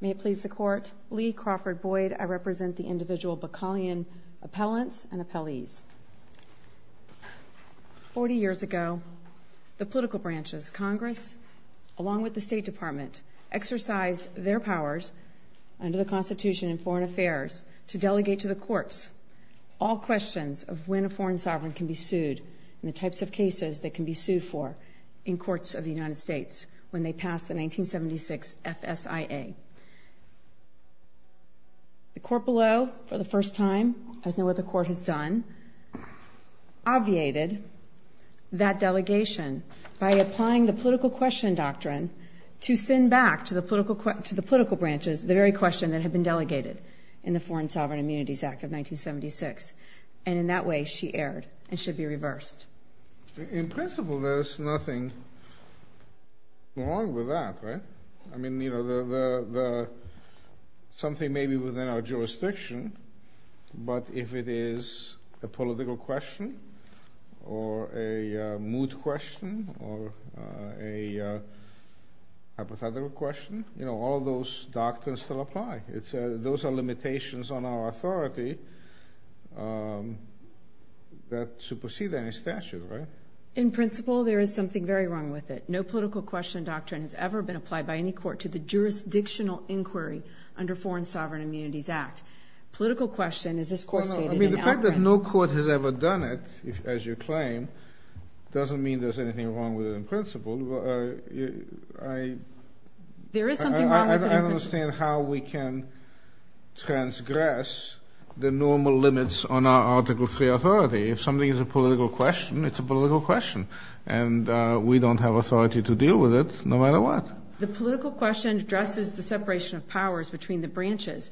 May it please the Court, Lee Crawford Boyd, I represent the individual Bakalian appellants and appellees. Forty years ago, the political branches, Congress, along with the State Department, exercised their powers under the Constitution and Foreign Affairs to delegate to the courts all questions of when a foreign sovereign can be sued and the types of cases they can be sued for in courts of the United States when they passed the 1976 FSIA. The court below, for the first time, as no other court has done, obviated that delegation by applying the political question doctrine to send back to the political branches the very question that had been delegated in the Foreign Sovereign Immunities Act of 1976. And in that way, she erred and should be reversed. In principle, there's nothing wrong with that, right? I mean, you know, something may be within our jurisdiction, but if it is a political question or a mood question or a hypothetical question, you know, all those doctrines still apply. Those are limitations on our authority that supersede any statute, right? In principle, there is something very wrong with it. No political question doctrine has ever been applied by any court to the jurisdictional inquiry under Foreign Sovereign Immunities Act. The fact that no court has ever done it, as you claim, doesn't mean there's anything wrong with it in principle. There is something wrong with it. I don't understand how we can transgress the normal limits on our article of free authority. If something is a political question, it's a political question, and we don't have authority to deal with it, no matter what. The political question addresses the separation of powers between the branches.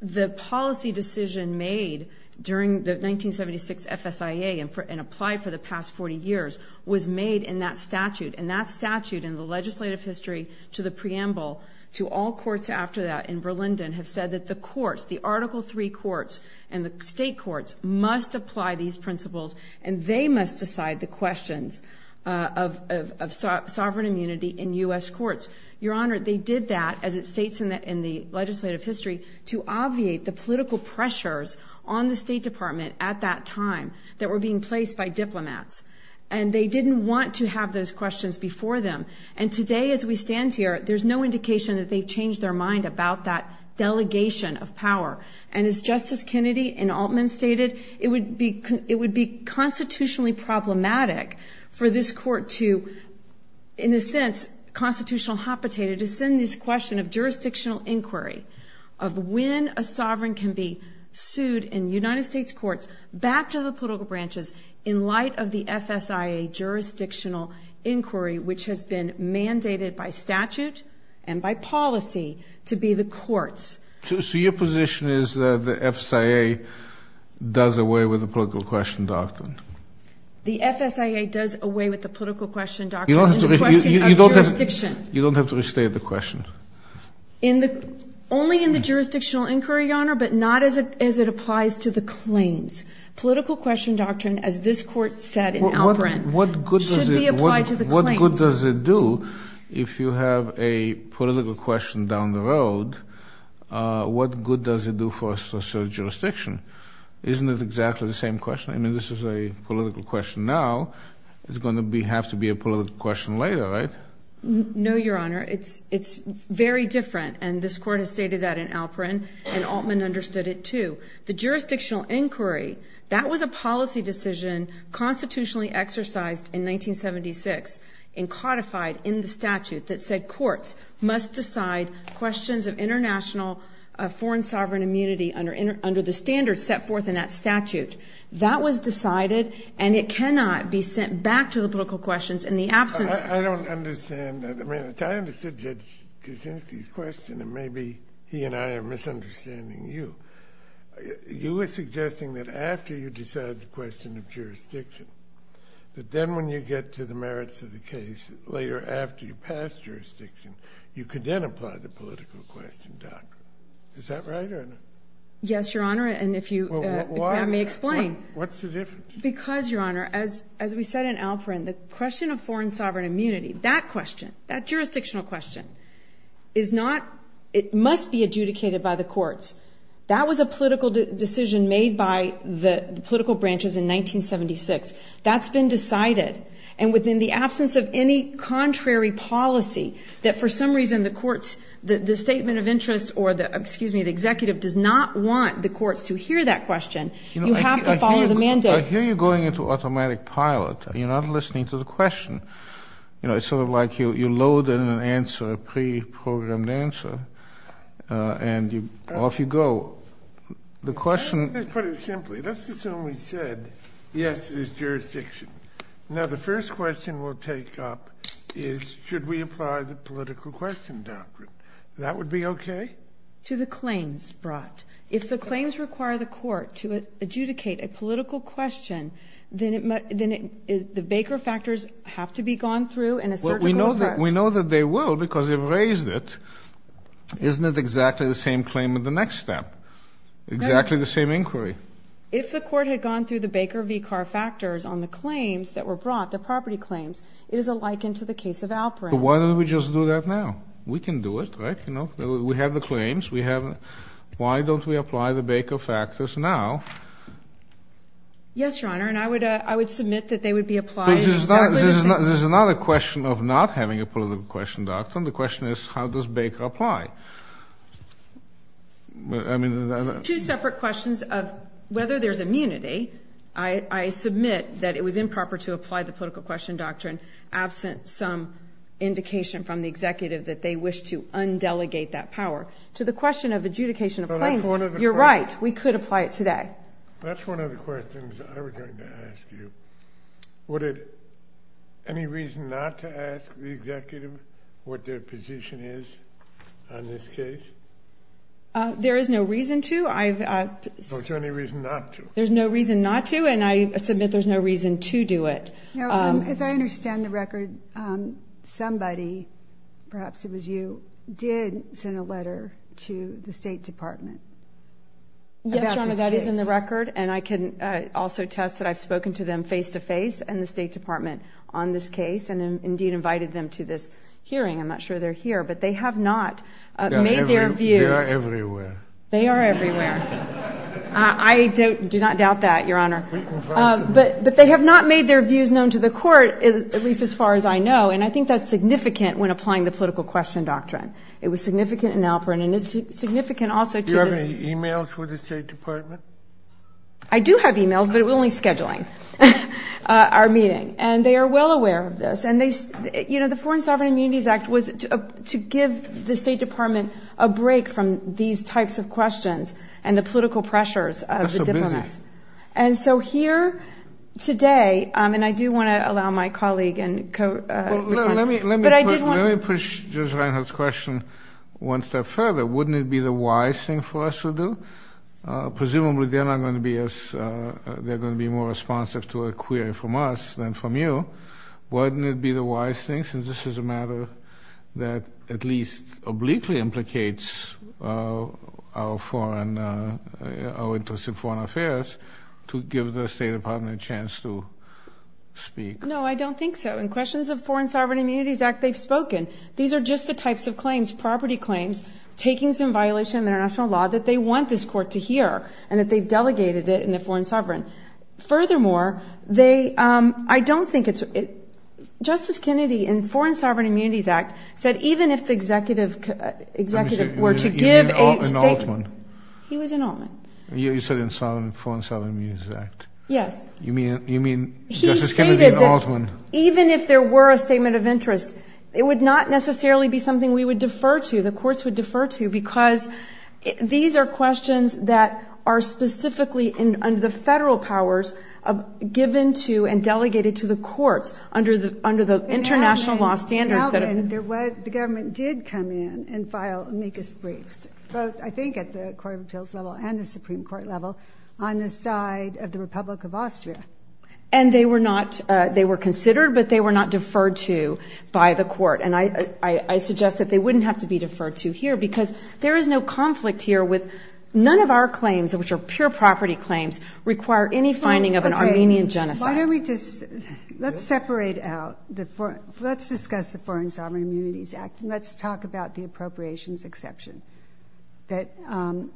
The policy decision made during the 1976 FSIA and applied for the past 40 years was made in that statute, and that statute in the legislative history to the preamble to all courts after that in Berlin have said that the courts, the Article III courts and the state courts must apply these principles, and they must decide the questions of sovereign immunity in U.S. courts. Your Honor, they did that, as it states in the legislative history, to obviate the political pressures on the State Department at that time that were being placed by diplomats. And they didn't want to have those questions before them. And today, as we stand here, there's no indication that they've changed their mind about that delegation of power. And as Justice Kennedy in Altman stated, it would be constitutionally problematic for this court to, in a sense, constitutional hopitate, to send this question of jurisdictional inquiry of when a sovereign can be sued in the United States courts back to the political branches in light of the FSIA jurisdictional inquiry, which has been mandated by statute and by policy to be the courts. So your position is that the FSIA does away with the political question doctrine? The FSIA does away with the political question doctrine. You don't have to restate the question. Only in the jurisdictional inquiry, Your Honor, but not as it applies to the claims. Political question doctrine, as this court said in Alfred, should be applied to the claims. What good does it do if you have a political question down the road? What good does it do for a social jurisdiction? Isn't it exactly the same question? I mean, this is a political question now. It's going to have to be a political question later, right? No, Your Honor. It's very different, and this court has stated that in Alperin, and Altman understood it, too. The jurisdictional inquiry, that was a policy decision constitutionally exercised in 1976 and codified in the statute that said courts must decide questions of international foreign sovereign immunity under the standards set forth in that statute. That was decided, and it cannot be sent back to the political questions in the absence. I don't understand that. I mean, I kind of suggest to Sinckey's question that maybe he and I are misunderstanding you. You were suggesting that after you decide the question of jurisdiction, that then when you get to the merits of the case later after you pass jurisdiction, you could then apply the political question doctrine. Is that right or not? Yes, Your Honor, and if you have me explain. What's the difference? Because, Your Honor, as we said in Alperin, the question of foreign sovereign immunity, that question, that jurisdictional question is not, it must be adjudicated by the courts. That was a political decision made by the political branches in 1976. That's been decided, and within the absence of any contrary policy, that for some reason the courts, the statement of interest or the, excuse me, the executive does not want the courts to hear that question. You have to follow the mandate. I hear you going into automatic pilot. You're not listening to the question. You know, it's sort of like you load in an answer, a pre-programmed answer, and off you go. The question— Let's put it simply. Let's assume we said yes to this jurisdiction. Now, the first question we'll take up is should we apply the political question doctrine. That would be okay? To the claims brought. If the claims require the court to adjudicate a political question, then the Baker factors have to be gone through and a search warrant. We know that they will because they raised it. Isn't it exactly the same claim in the next step? Exactly the same inquiry. If the court had gone through the Baker v. Carr factors on the claims that were brought, the property claims, is it likened to the case of Alperin? Why don't we just do that now? We can do it, right? We have the claims. Why don't we apply the Baker factors now? Yes, Your Honor, and I would submit that they would be applied— There's another question of not having a political question doctrine. The question is how does Baker apply? Two separate questions of whether there's immunity. I submit that it was improper to apply the political question doctrine absent some indication from the executive that they wish to undelegate that power. To the question of adjudication of claims, you're right. We could apply it today. That's one of the questions I was going to ask you. Any reason not to ask the executive what their position is on this case? There is no reason to. Is there any reason not to? There's no reason not to, and I submit there's no reason to do it. As I understand the record, somebody, perhaps it was you, did send a letter to the State Department. Yes, Your Honor, that is in the record, and I can also test that I've spoken to them face-to-face and the State Department on this case and indeed invited them to this hearing. I'm not sure they're here, but they have not made their views— They are everywhere. They are everywhere. I do not doubt that, Your Honor. But they have not made their views known to the court, at least as far as I know, and I think that's significant when applying the political question doctrine. It was significant in Alperin, and it's significant also— Do you have any e-mails for the State Department? I do have e-mails, but we're only scheduling our meeting. And they are well aware of this, and the Foreign Sovereign Immunities Act was to give the State Department a break from these types of questions and the political pressures of the diplomats. And so here today—and I do want to allow my colleague— Let me push Judge Reinhart's question one step further. Wouldn't it be the wise thing for us to do? Presumably they're going to be more responsive to a query from us than from you. Wouldn't it be the wise thing, since this is a matter that at least obliquely implicates our interest in foreign affairs, to give the State Department a chance to speak? No, I don't think so. In questions of the Foreign Sovereign Immunities Act, they've spoken. These are just the types of claims, property claims, takings in violation of international law, that they want this court to hear, and that they've delegated it in the Foreign Sovereign. Furthermore, I don't think it's— Justice Kennedy, in the Foreign Sovereign Immunities Act, said even if the executive were to give— He was in Altman. You said in the Foreign Sovereign Immunities Act. Yes. You mean Justice Kennedy in Altman? Even if there were a statement of interest, it would not necessarily be something we would defer to, the courts would defer to, because these are questions that are specifically under the federal powers given to and delegated to the courts under the international law standards. In Altman, the government did come in and file amicus briefs, both I think at the Court of Appeals level and the Supreme Court level, on the side of the Republic of Austria. And they were considered, but they were not deferred to by the court. And I suggest that they wouldn't have to be deferred to here, because there is no conflict here with—none of our claims, which are pure property claims, require any finding of an Armenian genocide. Why don't we just—let's separate out—let's discuss the Foreign Sovereign Immunities Act and let's talk about the appropriations exception that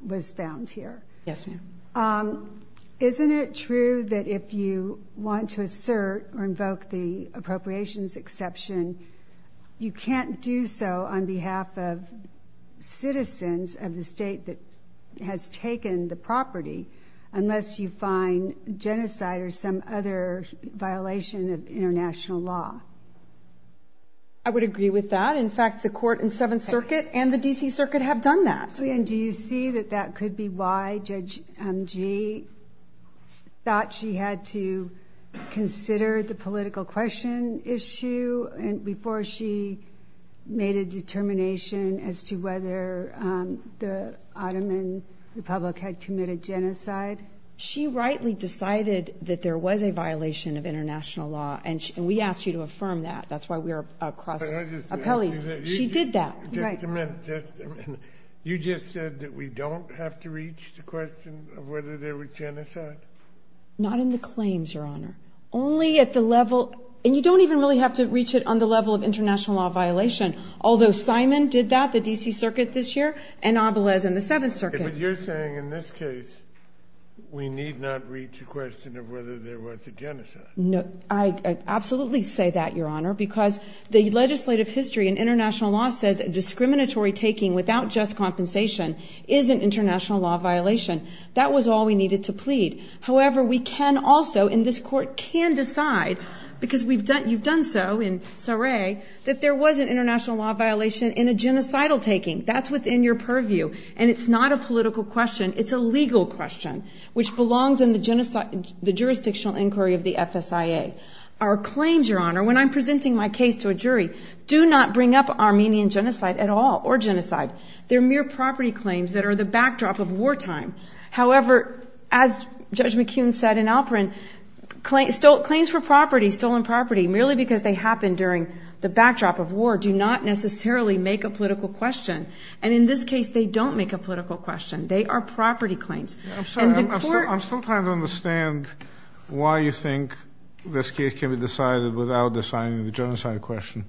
was found here. Yes, ma'am. Isn't it true that if you want to assert or invoke the appropriations exception, you can't do so on behalf of citizens of the state that has taken the property unless you find genocide or some other violation of international law? I would agree with that. In fact, the court in Seventh Circuit and the D.C. Circuit have done that. And do you see that that could be why Judge M.G. thought she had to consider the political question issue before she made a determination as to whether the Ottoman Republic had committed genocide? She rightly decided that there was a violation of international law. And we asked you to affirm that. That's why we're a cross—appellee. She did that. Just a minute. You just said that we don't have to reach the question of whether there was genocide? Not in the claims, Your Honor. Only at the level—and you don't even really have to reach it on the level of international law violation, although Simon did that, the D.C. Circuit this year, and Abelez in the Seventh Circuit. But you're saying in this case we need not reach the question of whether there was a genocide. No, I absolutely say that, Your Honor, because the legislative history in international law says discriminatory taking without just compensation is an international law violation. That was all we needed to plead. However, we can also, in this court, can decide, because you've done so in Saray, that there was an international law violation and a genocidal taking. That's within your purview, and it's not a political question. It's a legal question, which belongs in the jurisdictional inquiry of the FSIA. Our claims, Your Honor, when I'm presenting my case to a jury, do not bring up Armenian genocide at all or genocide. They're mere property claims that are the backdrop of wartime. However, as Judge McKeon said in Alperin, claims for property, stolen property, merely because they happened during the backdrop of war, do not necessarily make a political question. And in this case, they don't make a political question. They are property claims. I'm sorry, I'm still trying to understand why you think this case can be decided without deciding the genocide question.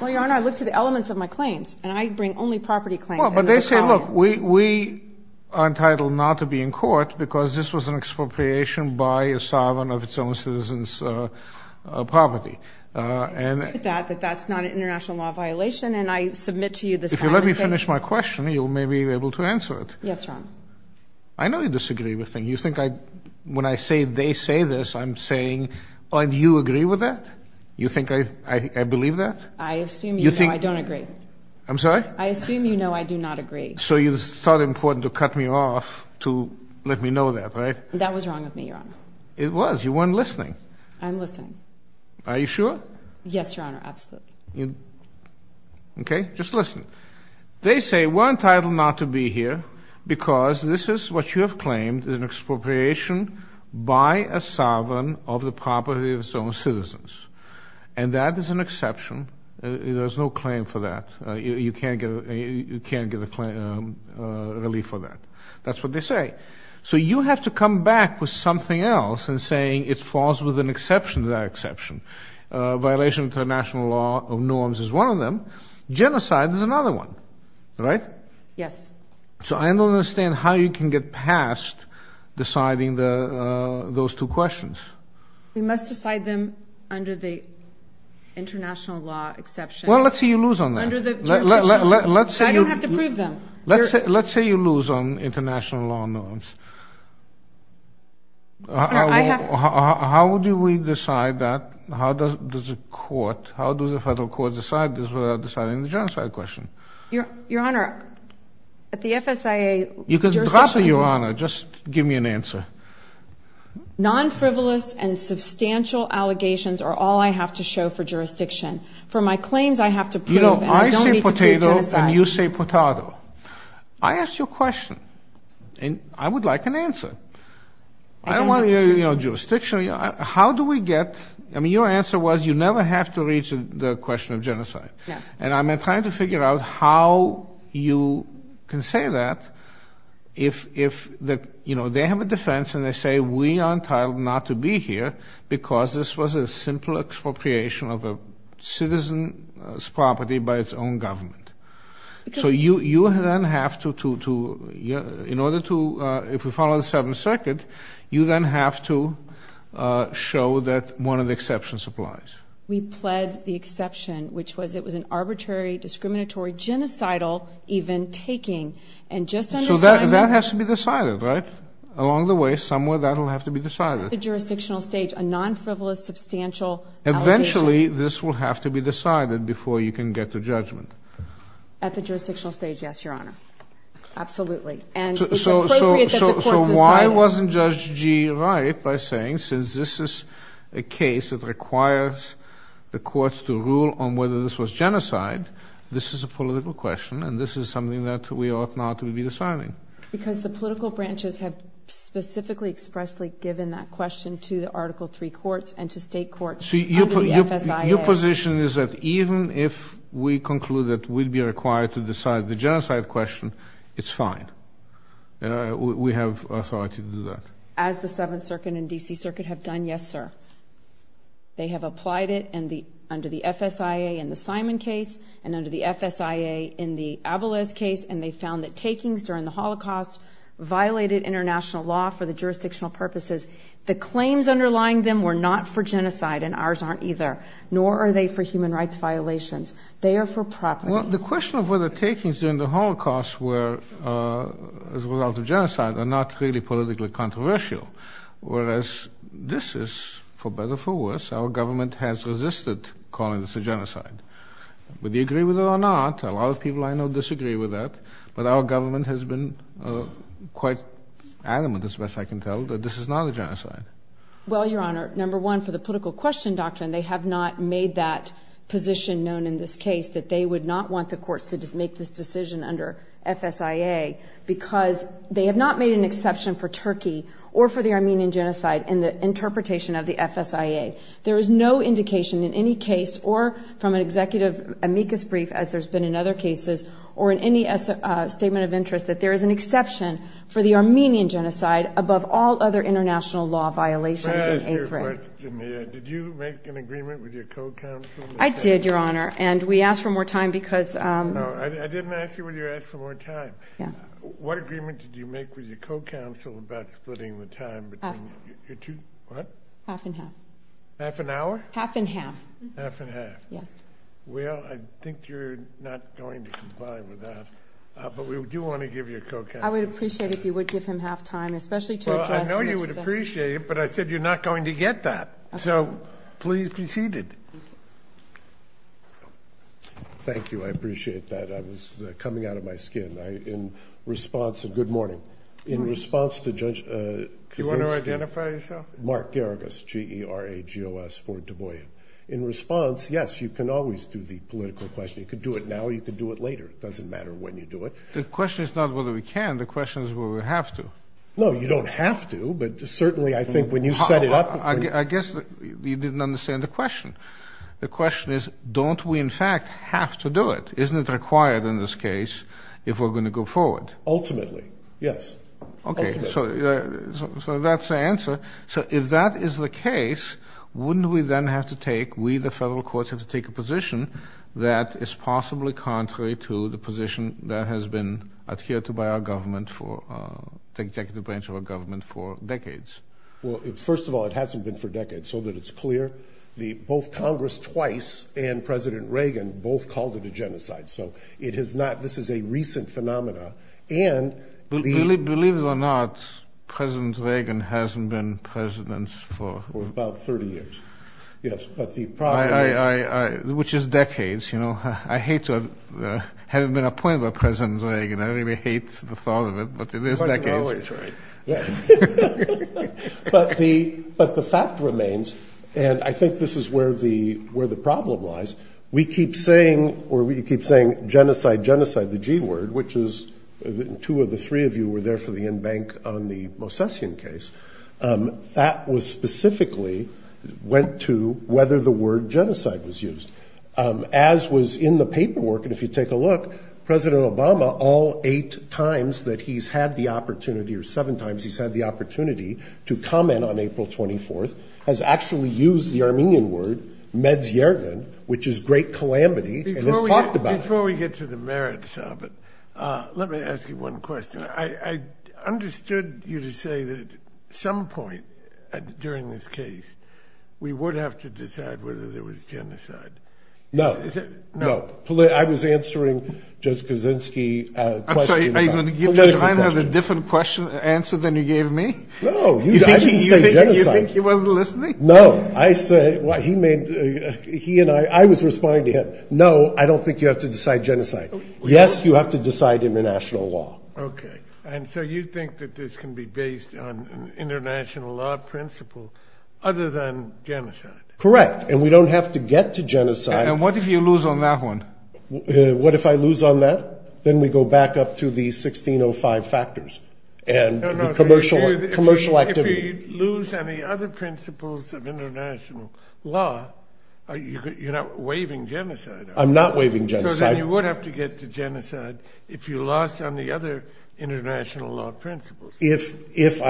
Well, Your Honor, I looked at the elements of my claims, and I bring only property claims. Well, but they say, look, we are entitled not to be in court because this was an expropriation by a sovereign of its own citizens' property. That's not an international law violation, and I submit to you that If you let me finish my question, you may be able to answer it. Yes, Your Honor. I know you disagree with me. You think I, when I say they say this, I'm saying, do you agree with that? You think I believe that? I assume you know I don't agree. I'm sorry? I assume you know I do not agree. So you thought it important to cut me off to let me know that, right? That was wrong of me, Your Honor. It was. You weren't listening. I'm listening. Are you sure? Yes, Your Honor, absolutely. Okay, just listen. They say we're entitled not to be here because this is what you have claimed, an expropriation by a sovereign of the property of its own citizens. And that is an exception. There's no claim for that. You can't get a claim, a relief for that. That's what they say. So you have to come back with something else and saying it falls with an exception to that exception. A violation of international law of norms is one of them. Genocide is another one, right? Yes. So I don't understand how you can get past deciding those two questions. We must decide them under the international law exception. Well, let's see you lose on that. I don't have to prove them. Let's say you lose on international law norms. How do we decide that? How does the court, how does the federal court decide this without deciding the genocide question? Your Honor, at the FSIA, You can drop it, Your Honor. Just give me an answer. Non-frivolous and substantial allegations are all I have to show for jurisdiction. For my claims, I have to prove them. I say potato and you say potado. I asked you a question and I would like an answer. I don't want to hear your jurisdiction. How do we get, I mean your answer was you never have to reach the question of genocide. And I'm trying to figure out how you can say that if they have a defense and they say we are entitled not to be here because this was a simple expropriation of a citizen's property by its own government. So you then have to, in order to, if we follow the Seventh Circuit, you then have to show that one of the exceptions applies. We pled the exception, which was it was an arbitrary, discriminatory, genocidal even taking. So that has to be decided, right? Along the way, somewhere that will have to be decided. At the jurisdictional stage, a non-frivolous, substantial allegation. Eventually, this will have to be decided before you can get to judgment. At the jurisdictional stage, yes, Your Honor. Absolutely. So why wasn't Judge Gee right by saying, since this is a case that requires the courts to rule on whether this was genocide, this is a political question and this is something that we ought not to be deciding? Because the political branches have specifically expressly given that question to the Article III courts and to state courts under the FSIA. Your position is that even if we conclude that we'd be required to decide the genocide question, it's fine. We have authority to do that. As the Seventh Circuit and D.C. Circuit have done, yes, sir. They have applied it under the FSIA in the Simon case and under the FSIA in the Abaleth case, and they found that takings during the Holocaust violated international law for the jurisdictional purposes. The claims underlying them were not for genocide, and ours aren't either, nor are they for human rights violations. They are for property. Well, the question of whether takings during the Holocaust were as a result of genocide are not really politically controversial, whereas this is, for better or for worse, our government has resisted calling this a genocide. Would you agree with it or not? A lot of people I know disagree with that, but our government has been quite adamant, as best I can tell, that this is not a genocide. Well, Your Honor, number one, for the political question doctrine, they have not made that position known in this case, that they would not want the courts to make this decision under FSIA because they have not made an exception for Turkey or for the Armenian genocide in the interpretation of the FSIA. There is no indication in any case or from an executive amicus brief, as there's been in other cases, or in any statement of interest that there is an exception for the Armenian genocide above all other international law violations in Africa. May I ask you a question here? Did you make an agreement with your co-counsel? I did, Your Honor, and we asked for more time because... No, I didn't ask you whether you asked for more time. What agreement did you make with your co-counsel about splitting the time between... Half. What? Half and half. Half an hour? Half and half. Half and half. Yes. Well, I think you're not going to comply with that, but we do want to give you a co-counsel. I would appreciate it if you would give him half time, especially to address... Well, I know you would appreciate it, but I said you're not going to get that. Okay. So please be seated. Thank you. I appreciate that. That was coming out of my skin. In response to... Good morning. In response to Judge... Do you want to identify yourself? Mark Garagos, G-E-R-A-G-O-S for Du Bois. In response, yes, you can always do the political question. You can do it now or you can do it later. It doesn't matter when you do it. The question is not whether we can. The question is whether we have to. No, you don't have to, but certainly I think when you set it up... I guess you didn't understand the question. The question is, don't we in fact have to do it? Isn't it required in this case if we're going to go forward? Ultimately, yes. Okay, so that's the answer. So if that is the case, wouldn't we then have to take... We, the federal courts, have to take a position that is possibly contrary to the position that has been adhered to by our government for... the executive branch of our government for decades. Well, first of all, it hasn't been for decades, so that it's clear. Both Congress twice and President Reagan both called it a genocide. So it has not... This is a recent phenomena. Believe it or not, President Reagan hasn't been president for... For about 30 years. Yes, but the problem... Which is decades, you know. I hate to... I haven't been appointed by President Reagan. I really hate the thought of it, but it is decades. But the fact remains, and I think this is where the problem lies, we keep saying, or we keep saying genocide, genocide, the G word, which is... Two of the three of you were there for the in-bank on the Mosesian case. That was specifically went to whether the word genocide was used. As was in the paperwork, and if you take a look, President Obama, all eight times that he's had the opportunity, or seven times he's had the opportunity to comment on April 24th, has actually used the Armenian word, medgergan, which is great calamity. Before we get to the merits of it, let me ask you one question. I understood you to say that at some point during this case, we would have to decide whether there was genocide. No. No. I was answering Judge Kaczynski's question. I'm sorry, are you going to give him a different answer than you gave me? No, I didn't say genocide. You think he wasn't listening? No, I said... He and I... I was responding to him. No, I don't think you have to decide genocide. Yes, you have to decide international law. Okay. And so you think that this can be based on international law principles, other than genocide? Correct. And we don't have to get to genocide. And what if you lose on that one? What if I lose on that? Then we go back up to the 1605 factors. No, no, if you lose any other principles of international law, you're not waiving genocide. I'm not waiving genocide. So then you would have to get to genocide if you lost on the other international law principles. Yes, if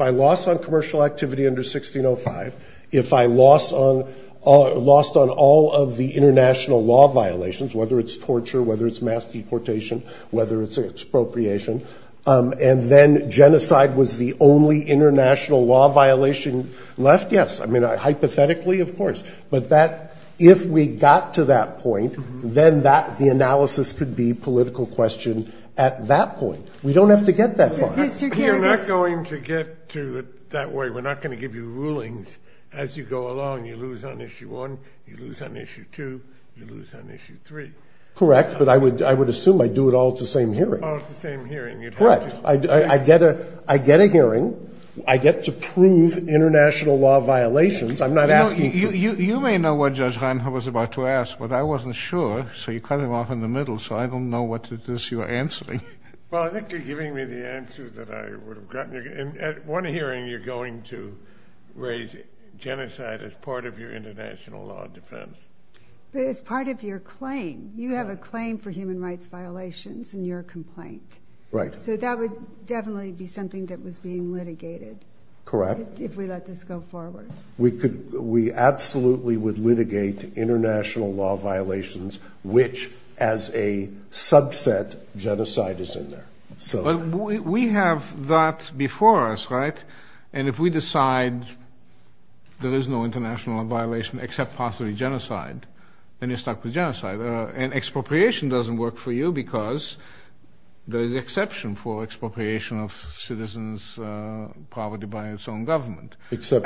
I lost on commercial activity under 1605, if I lost on all of the international law violations, whether it's torture, whether it's mass deportation, whether it's expropriation, and then genocide was the only international law violation left, yes, hypothetically, of course. But if we got to that point, then the analysis could be political question at that point. We don't have to get that far. You're not going to get to it that way. We're not going to give you rulings as you go along. You lose on issue one, you lose on issue two, you lose on issue three. Correct, but I would assume I do it all at the same hearing. All at the same hearing. Correct. I get a hearing. I get to prove international law violations. I'm not asking you to. You may know what Judge Honhoff was about to ask, but I wasn't sure, so you cut him off in the middle, so I don't know what it is you're answering. Well, I think you're giving me the answer that I would have gotten. At one hearing, you're going to raise genocide as part of your international law defense. It's part of your claim. You have a claim for human rights violations in your complaint. Right. So that would definitely be something that was being litigated. Correct. If we let this go forward. We absolutely would litigate international law violations, which as a subset, genocide is in there. We have that before us, right? And if we decide there is no international law violation except possibly genocide, then you're stuck with genocide. And expropriation doesn't work for you, because there's an exception for expropriation of citizens' poverty by its own government. Except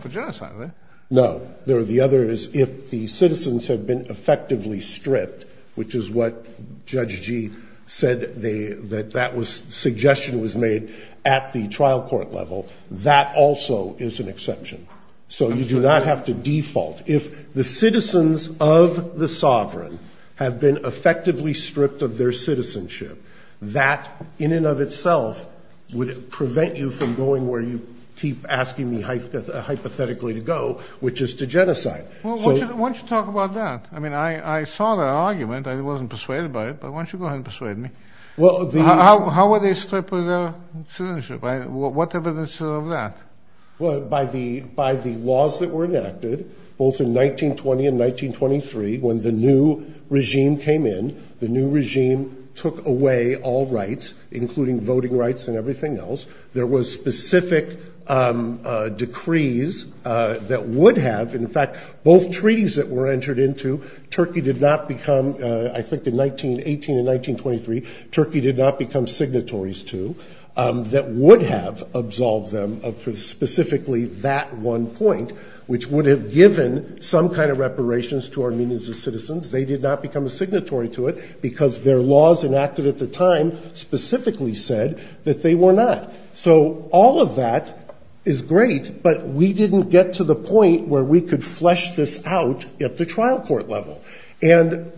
for genocide, right? No. The other is if the citizens have been effectively stripped, which is what Judge Gee said that that suggestion was made at the trial court level, that also is an exception. So you do not have to default. If the citizens of the sovereign have been effectively stripped of their citizenship, that in and of itself would prevent you from going where you keep asking me hypothetically to go, which is to genocide. Why don't you talk about that? I mean, I saw that argument. I wasn't persuaded by it, but why don't you go ahead and persuade me? How were they stripped of their citizenship? What evidence of that? Well, by the laws that were enacted, both in 1920 and 1923, when the new regime came in, the new regime took away all rights, including voting rights and everything else. There were specific decrees that would have, in fact, both treaties that were entered into, Turkey did not become, I think in 1918 and 1923, Turkey did not become signatories to, that would have absolved them of specifically that one point, which would have given some kind of reparations to Armenians as citizens. They did not become a signatory to it because their laws enacted at the time specifically said that they were not. So all of that is great, but we didn't get to the point where we could flesh this out at the trial court level. And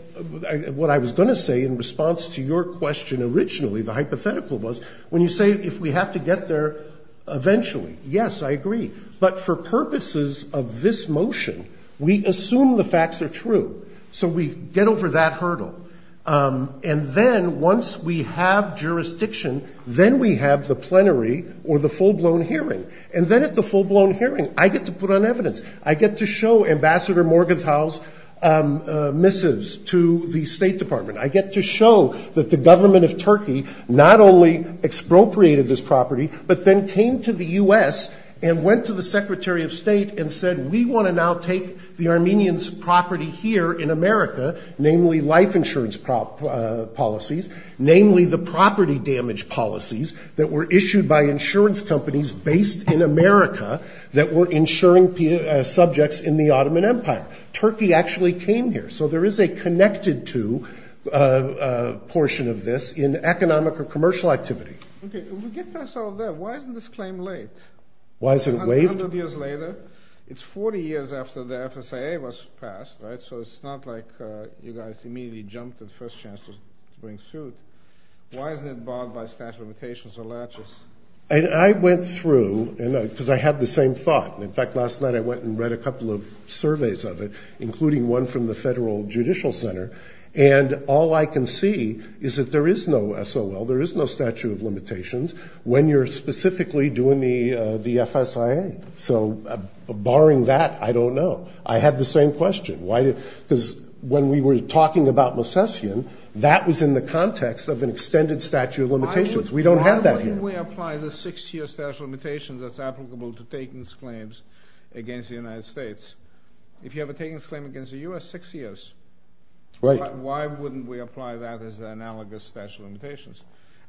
what I was going to say in response to your question originally, the hypothetical was, when you say if we have to get there eventually, yes, I agree. But for purposes of this motion, we assume the facts are true. So we get over that hurdle. And then once we have jurisdiction, then we have the plenary or the full-blown hearing. And then at the full-blown hearing, I get to put on evidence. I get to show Ambassador Morgenthau's missives to the State Department. I get to show that the government of Turkey not only expropriated this property, but then came to the U.S. and went to the Secretary of State and said, we want to now take the Armenians' property here in America, namely life insurance policies, namely the property damage policies that were issued by insurance companies based in America that were insuring subjects in the Ottoman Empire. Turkey actually came here. So there is a connected to portion of this in economic or commercial activity. Okay. We get past all of that. Why isn't this claim late? Why is it waived? A hundred years later? It's 40 years after the FSA was passed, right? So it's not like you guys immediately jumped the first chance to bring suit. Why isn't it barred by statute of limitations or latches? I went through, because I had the same thought. In fact, last night I went and read a couple of surveys of it, including one from the Federal Judicial Center, and all I can see is that there is no SOL, there is no statute of limitations, when you're specifically doing the FSIA. So barring that, I don't know. I had the same question. Because when we were talking about Lecessian, that was in the context of an extended statute of limitations. We don't have that here. Why wouldn't we apply the six-year statute of limitations that's applicable to taking these claims against the United States? If you have a taking a claim against the U.S., six years. Why wouldn't we apply that as an analogous statute of limitations?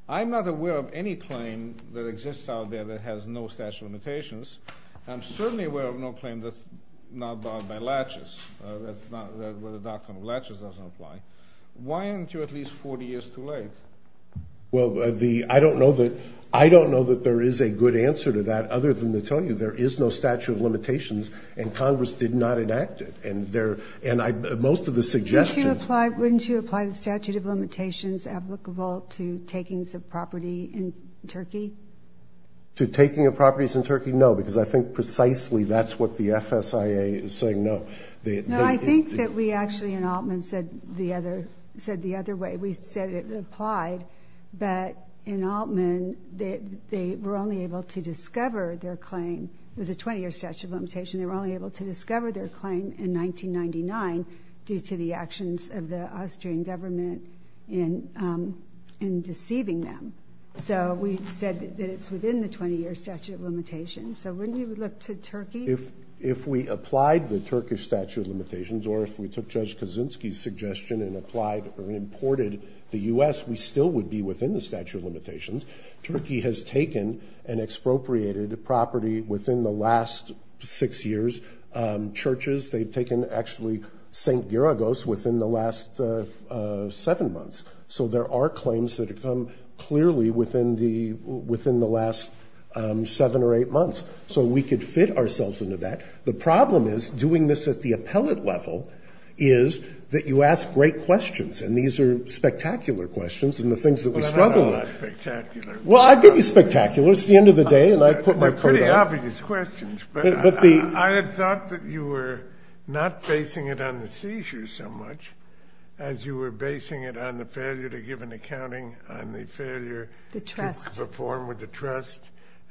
I'm not aware of any claim that exists out there that has no statute of limitations. I'm certainly aware of no claim that's not barred by latches, where the doctrine of latches doesn't apply. Why aren't you at least 40 years too late? Well, I don't know that there is a good answer to that, other than to tell you there is no statute of limitations, and Congress did not enact it. And most of the suggestions— Wouldn't you apply the statute of limitations applicable to takings of property in Turkey? To taking of properties in Turkey? No, because I think precisely that's what the FSIA is saying no. No, I think that we actually, in Altman, said the other way. We said it applied, but in Altman, they were only able to discover their claim with a 20-year statute of limitations. They were only able to discover their claim in 1999 due to the actions of the Austrian government in deceiving them. So we said that it's within the 20-year statute of limitations. So wouldn't we look to Turkey? If we applied the Turkish statute of limitations, or if we took Judge Kaczynski's suggestion and applied or imported the U.S., we still would be within the statute of limitations. Turkey has taken and expropriated property within the last six years. Churches, they've taken actually St. Gyragos within the last seven months. So there are claims that have come clearly within the last seven or eight months. So we could fit ourselves into that. The problem is, doing this at the appellate level, is that you ask great questions, and these are spectacular questions and the things that we struggle with. They're spectacular. Well, I give you spectacular. It's the end of the day, and I put my foot down. They're pretty obvious questions. I had thought that you were not basing it on the seizures so much as you were basing it on the failure to give an accounting, on the failure to perform with the trust,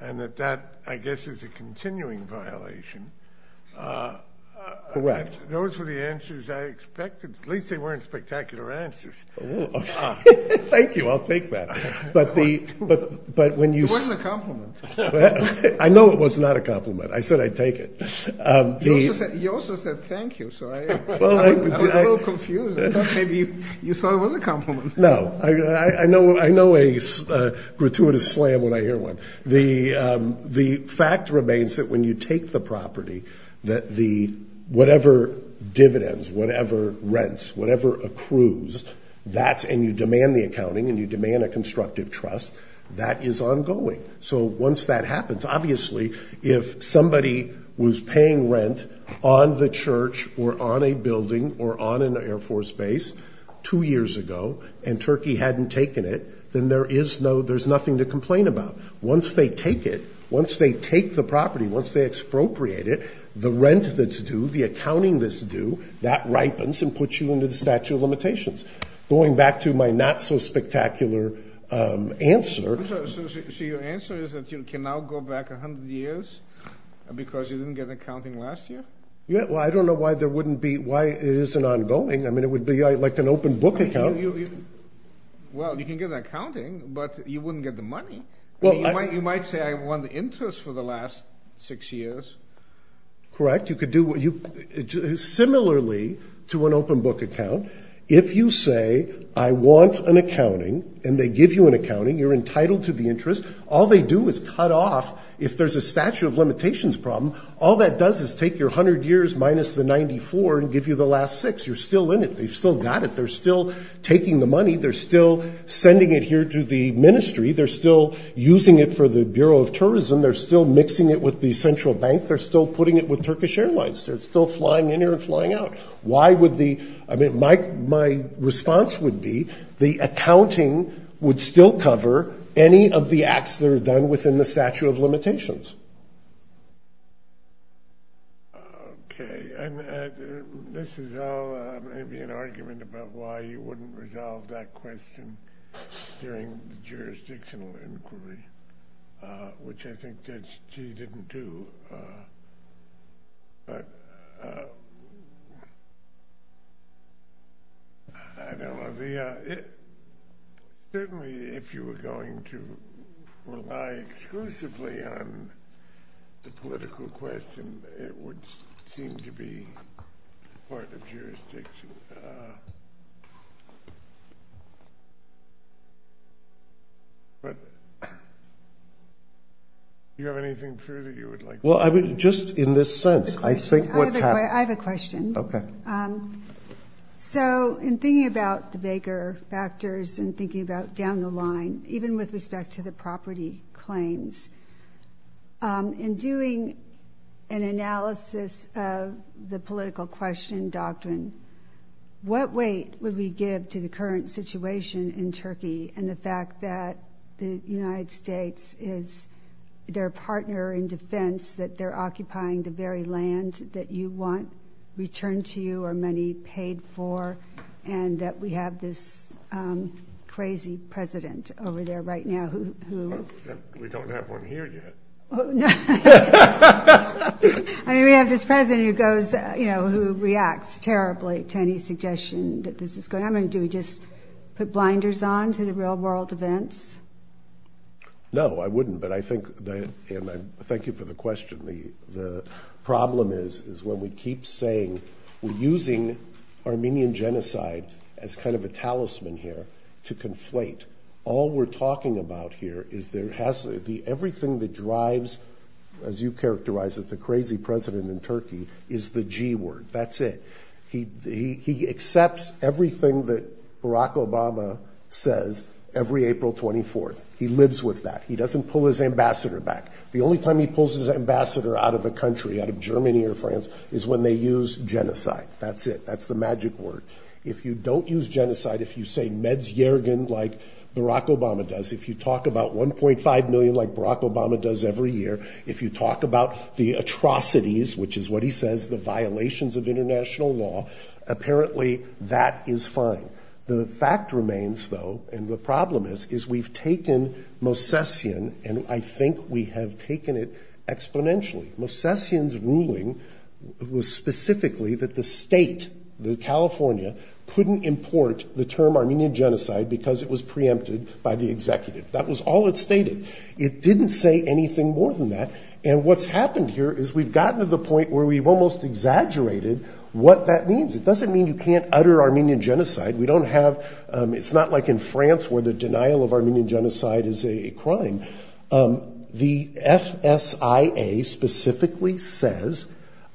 and that that, I guess, is a continuing violation. Those were the answers I expected. At least they weren't spectacular answers. Thank you. I'll take that. It wasn't a compliment. I know it was not a compliment. I said I'd take it. He also said thank you, so I'm a little confused. Maybe you thought it was a compliment. No. I know a gratuitous slam when I hear one. The fact remains that when you take the property, whatever dividends, whatever rents, whatever accrues, and you demand the accounting and you demand a constructive trust, that is ongoing. So once that happens, obviously, if somebody was paying rent on the church or on a building or on an Air Force base two years ago and Turkey hadn't taken it, then there's nothing to complain about. Once they take it, once they take the property, once they expropriate it, the rent that's due, the accounting that's due, that ripens and puts you under the statute of limitations. Going back to my not-so-spectacular answer. So your answer is that you can now go back 100 years because you didn't get accounting last year? Well, I don't know why it isn't ongoing. I mean, it would be like an open book account. Well, you can get accounting, but you wouldn't get the money. You might say I won the interest for the last six years. Correct. Similarly to an open book account, if you say I want an accounting and they give you an accounting, you're entitled to the interest, all they do is cut off. If there's a statute of limitations problem, all that does is take your 100 years minus the 94 and give you the last six. You're still in it. They've still got it. They're still taking the money. They're still sending it here to the ministry. They're still using it for the Bureau of Tourism. They're still mixing it with the central bank. They're still putting it with Turkish Airlines. They're still flying in here and flying out. I mean, my response would be the accounting would still cover any of the acts that are done within the statute of limitations. Okay. This is all maybe an argument about why you wouldn't resolve that question during the jurisdictional inquiry, which I think that she didn't do. But I don't know. Certainly if you were going to rely exclusively on the political question, it would seem to be part of the jurisdiction. But do you have anything further you would like to add? Well, just in this sense, I think what's happened. I have a question. Okay. So in thinking about the Baker factors and thinking about down the line, even with respect to the property claims, in doing an analysis of the political question doctrine, what weight would we give to the current situation in Turkey and the fact that the United States is their partner in defense, that they're occupying the very land that you want returned to you and that we have this crazy president over there right now who. We don't have one here yet. I mean, we have this president who goes, you know, who reacts terribly to any suggestion that this is going. I mean, do we just put blinders on to the real world events? No, I wouldn't. But I think, and I thank you for the question. The problem is when we keep saying we're using Armenian genocide as kind of a talisman here to conflate. All we're talking about here is there has to be everything that drives, as you characterize it, the crazy president in Turkey is the G word. That's it. He accepts everything that Barack Obama says every April 24th. He lives with that. He doesn't pull his ambassador back. The only time he pulls his ambassador out of the country, out of Germany or France, is when they use genocide. That's it. That's the magic word. If you don't use genocide, if you say Meds Järgen like Barack Obama does, if you talk about 1.5 million like Barack Obama does every year, if you talk about the atrocities, which is what he says, the violations of international law, apparently that is fine. The fact remains, though, and the problem is, we've taken Mosesian, and I think we have taken it exponentially. Mosesian's ruling was specifically that the state, California, couldn't import the term Armenian genocide because it was preempted by the executive. That was all it stated. It didn't say anything more than that. And what's happened here is we've gotten to the point where we've almost exaggerated what that means. It doesn't mean you can't utter Armenian genocide. It's not like in France where the denial of Armenian genocide is a crime. The FSIA specifically says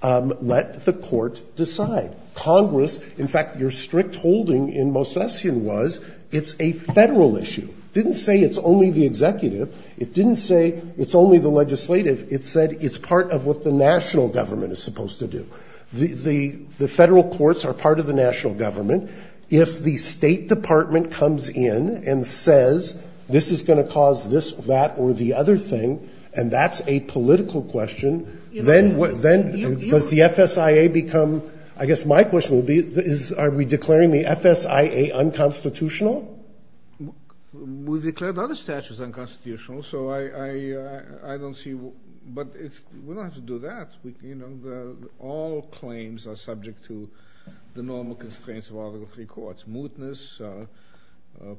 let the court decide. Congress, in fact, your strict holding in Mosesian was it's a federal issue. It didn't say it's only the executive. It didn't say it's only the legislative. It said it's part of what the national government is supposed to do. The federal courts are part of the national government. If the State Department comes in and says this is going to cause this, that, or the other thing, and that's a political question, then does the FSIA become, I guess my question would be are we declaring the FSIA unconstitutional? We've declared other statutes unconstitutional, so I don't see. But we don't have to do that. All claims are subject to the normal constraints of all the three courts, mootness,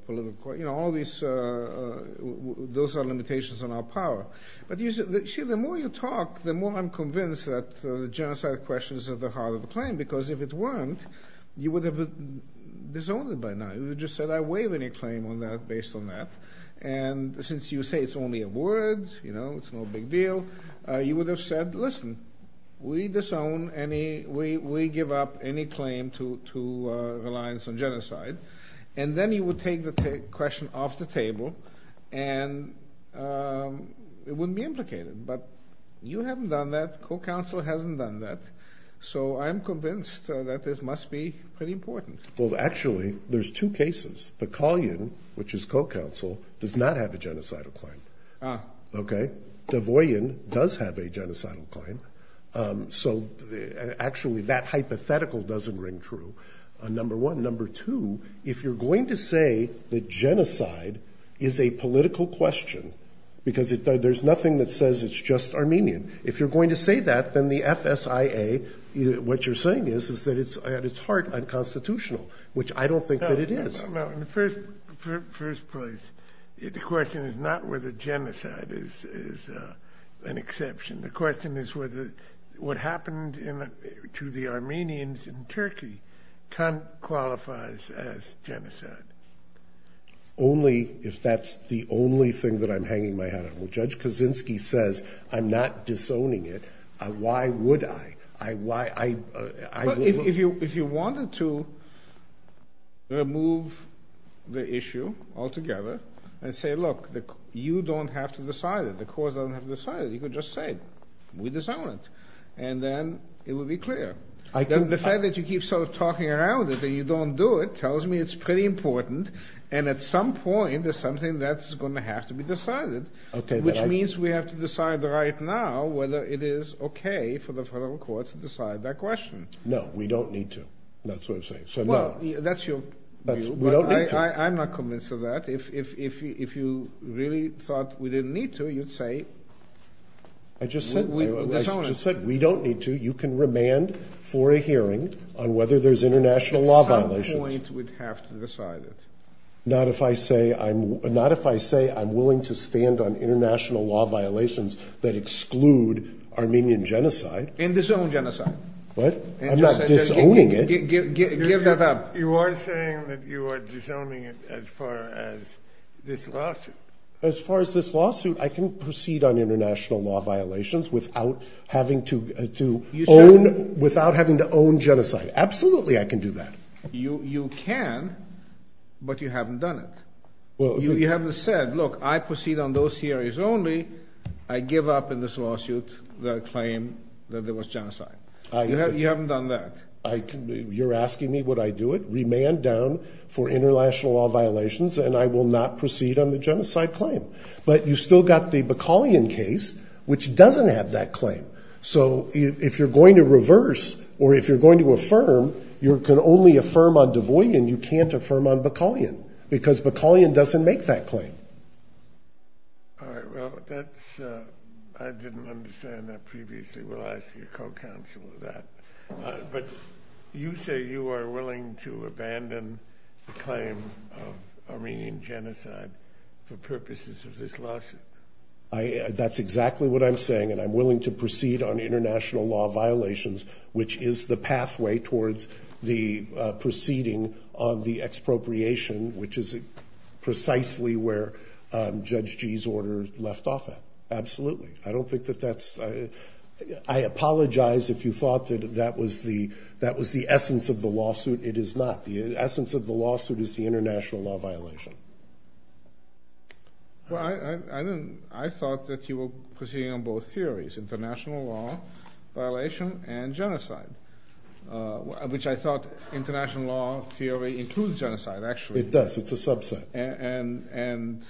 political, all these. Those are limitations on our power. The more you talk, the more I'm convinced that the genocidal question is at the heart of the claim because if it weren't, you would have been disowned by now. You would have just said I waive any claim based on that. And since you say it's only a word, it's no big deal, you would have said, listen, we disown any, we give up any claim to reliance on genocide. And then you would take the question off the table and it wouldn't be implicated. But you haven't done that. Co-counsel hasn't done that. So I'm convinced that this must be pretty important. Well, actually, there's two cases. Bakalyan, which is co-counsel, does not have a genocidal claim. Ah. Okay? Davoyan does have a genocidal claim. So actually, that hypothetical doesn't ring true, number one. Number two, if you're going to say that genocide is a political question because there's nothing that says it's just Armenian, if you're going to say that, then the FSIA, what you're saying is that it's, at its heart, unconstitutional, which I don't think that it is. No, in the first place, the question is not whether genocide is an exception. The question is whether what happened to the Armenians in Turkey qualifies as genocide. Only if that's the only thing that I'm hanging my head over. Judge Kaczynski says, I'm not disowning it. Why would I? If you wanted to remove the issue altogether and say, look, you don't have to decide it. The court doesn't have to decide it. You can just say, we disown it. And then it would be clear. The fact that you keep sort of talking around it, that you don't do it, tells me it's pretty important. And at some point, there's something that's going to have to be decided. Which means we have to decide right now whether it is okay for the federal courts to decide that question. No, we don't need to. That's what I'm saying. Well, that's your view, but I'm not convinced of that. If you really thought we didn't need to, you'd say, we disown it. I just said, we don't need to. You can remand for a hearing on whether there's international law violations. At some point, we'd have to decide it. Not if I say I'm willing to stand on international law violations that exclude Armenian genocide. Then disown genocide. What? I'm not disowning it. You are saying that you are disowning it as far as this lawsuit. As far as this lawsuit, I can proceed on international law violations without having to own genocide. Absolutely, I can do that. You can, but you haven't done it. You haven't said, look, I proceed on those theories only. I give up in this lawsuit the claim that there was genocide. You haven't done that. You're asking me would I do it? Remand down for international law violations, and I will not proceed on the genocide claim. But you've still got the Bakalyan case, which doesn't have that claim. So if you're going to reverse, or if you're going to affirm, you can only affirm on Du Bois, and you can't affirm on Bakalyan, because Bakalyan doesn't make that claim. All right, well, I didn't understand that previously. We'll ask your co-counsel on that. But you say you are willing to abandon the claim of Armenian genocide for purposes of this lawsuit. That's exactly what I'm saying, and I'm willing to proceed on international law violations, which is the pathway towards the proceeding on the expropriation, which is precisely where Judge G's order left off at. Absolutely. I don't think that that's – I apologize if you thought that that was the essence of the lawsuit. It is not. The essence of the lawsuit is the international law violation. Well, I thought that you were proceeding on both theories, international law violation and genocide, which I thought international law theory includes genocide, actually. It does. It's a subset. And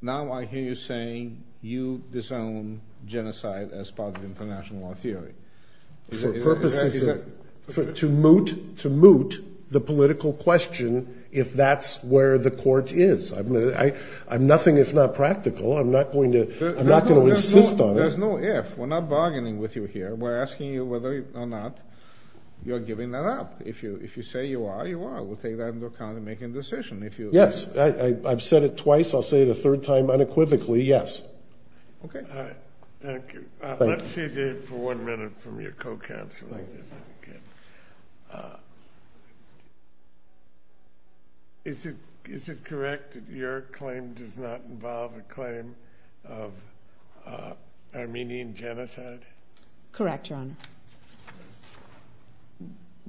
now I hear you saying you disown genocide as part of international law theory. For purposes of – to moot the political question if that's where the court is. Nothing is not practical. I'm not going to insist on it. There's no if. We're not bargaining with you here. We're asking you whether or not you're giving that up. If you say you are, you are. We'll take that into account in making a decision. Yes, I've said it twice. I'll say it a third time unequivocally, yes. Okay. All right. Thank you. Let's save this for one minute from your co-counsel. Is it correct that your claim does not involve a claim of Armenian genocide? Correct, John.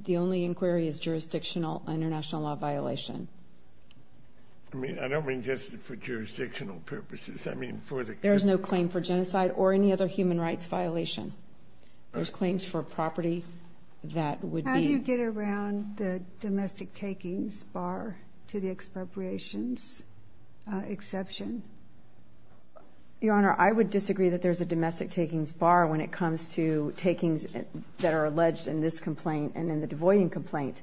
The only inquiry is jurisdictional international law violation. I mean, I don't mean just for jurisdictional purposes. There is no claim for genocide or any other human rights violation. There's claims for property that would be – How do you get around the domestic takings bar to the expropriations exception? Your Honor, I would disagree that there's a domestic takings bar when it comes to takings that are alleged in this complaint and in the Du Bois complaint.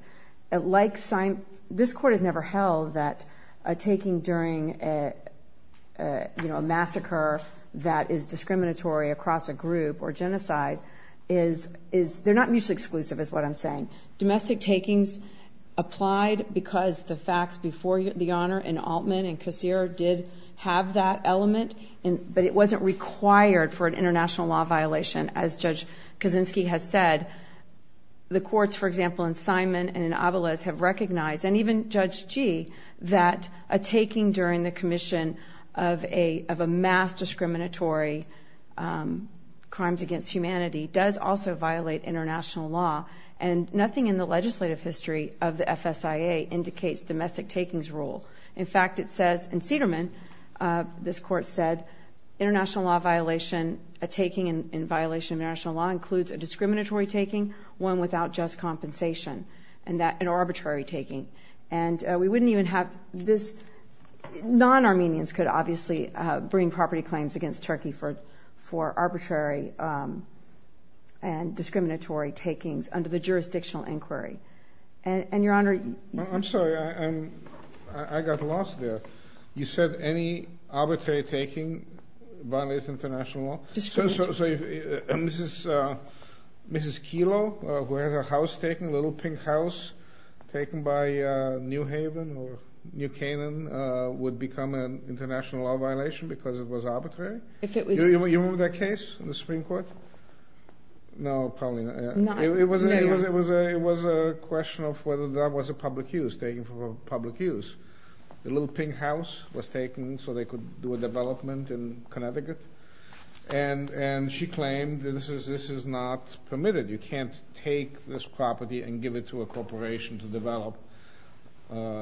This Court has never held that a taking during a massacre that is discriminatory across a group or genocide is – they're not mutually exclusive is what I'm saying. Domestic takings applied because the facts before the Honor in Altman and Kassir did have that element, but it wasn't required for an international law violation as Judge Kaczynski has said. The courts, for example, in Simon and in Avales have recognized, and even Judge Gee, that a taking during the commission of a mass discriminatory crimes against humanity does also violate international law, and nothing in the legislative history of the FSIA indicates domestic takings rule. In fact, it says in Cederman, this Court said, international law violation, a taking in violation of international law includes a discriminatory taking, one without just compensation, and an arbitrary taking. And we wouldn't even have this – non-Armenians could obviously bring property claims against Turkey for arbitrary and discriminatory takings under the jurisdictional inquiry. And, Your Honor – I'm sorry, I got lost there. You said any arbitrary taking violates international law? Mrs. Kilo, who has her house taken, Little Pink House, taken by New Haven or New Canaan, would become an international law violation because it was arbitrary? You remember that case in the Supreme Court? No, probably not. It was a question of whether that was a public use, taking for public use. The Little Pink House was taken so they could do a development in Connecticut, and she claimed that this is not permitted. You can't take this property and give it to a corporation to develop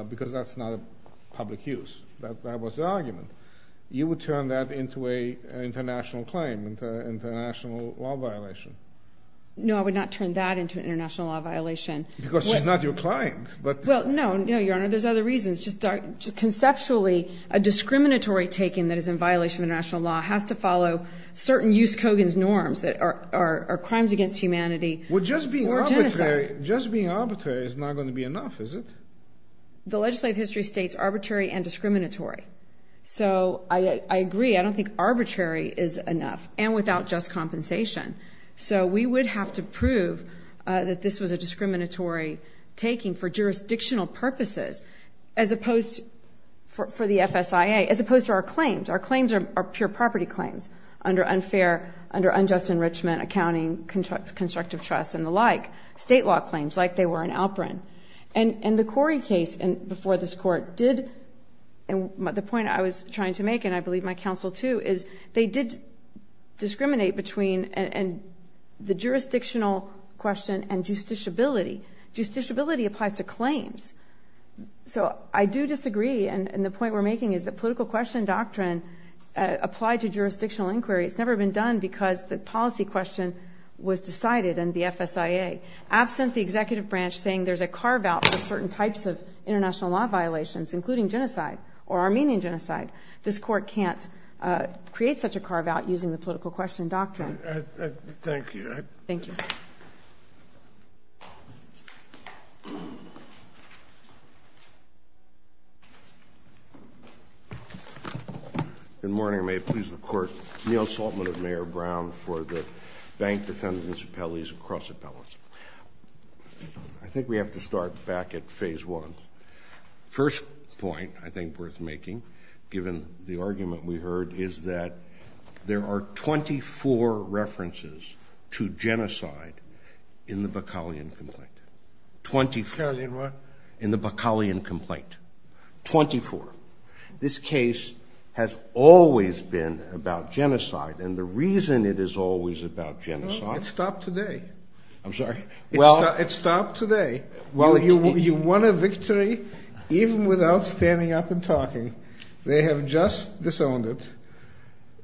because that's not a public use. That was the argument. You would turn that into an international claim, into an international law violation. No, I would not turn that into an international law violation. Because it's not your client. Well, no, Your Honor, there's other reasons. Conceptually, a discriminatory taking that is in violation of international law has to follow certain use code and norms that are crimes against humanity. Well, just being arbitrary is not going to be enough, is it? The legislative history states arbitrary and discriminatory. So I agree. I don't think arbitrary is enough, and without just compensation. So we would have to prove that this was a discriminatory taking for jurisdictional purposes as opposed for the FSIA, as opposed to our claims. Our claims are pure property claims under unfair, unjust enrichment, accounting, constructive trust, and the like. State law claims, like they were in Alperin. And the Corey case before this court did, and the point I was trying to make, and I believe my counsel, too, is they did discriminate between the jurisdictional question and justiciability. Justiciability applies to claims. So I do disagree, and the point we're making is that the political question doctrine applied to jurisdictional inquiry has never been done because the policy question was decided in the FSIA. Absent the executive branch saying there's a carve-out for certain types of international law violations, including genocide or Armenian genocide, this court can't create such a carve-out using the political question doctrine. Thank you. Thank you. Good morning. May it please the Court. Neal Saltman of Mayor Brown for the Bank Defendants' Appellees Cross-Appellancy. I think we have to start back at phase one. First point I think worth making, given the argument we heard, is that there are 24 references to genocide in the Bakalian complaint. Twenty-four in the Bakalian complaint. Twenty-four. This case has always been about genocide, and the reason it is always about genocide— It stopped today. I'm sorry? It stopped today. You won a victory even without standing up and talking. They have just disowned it.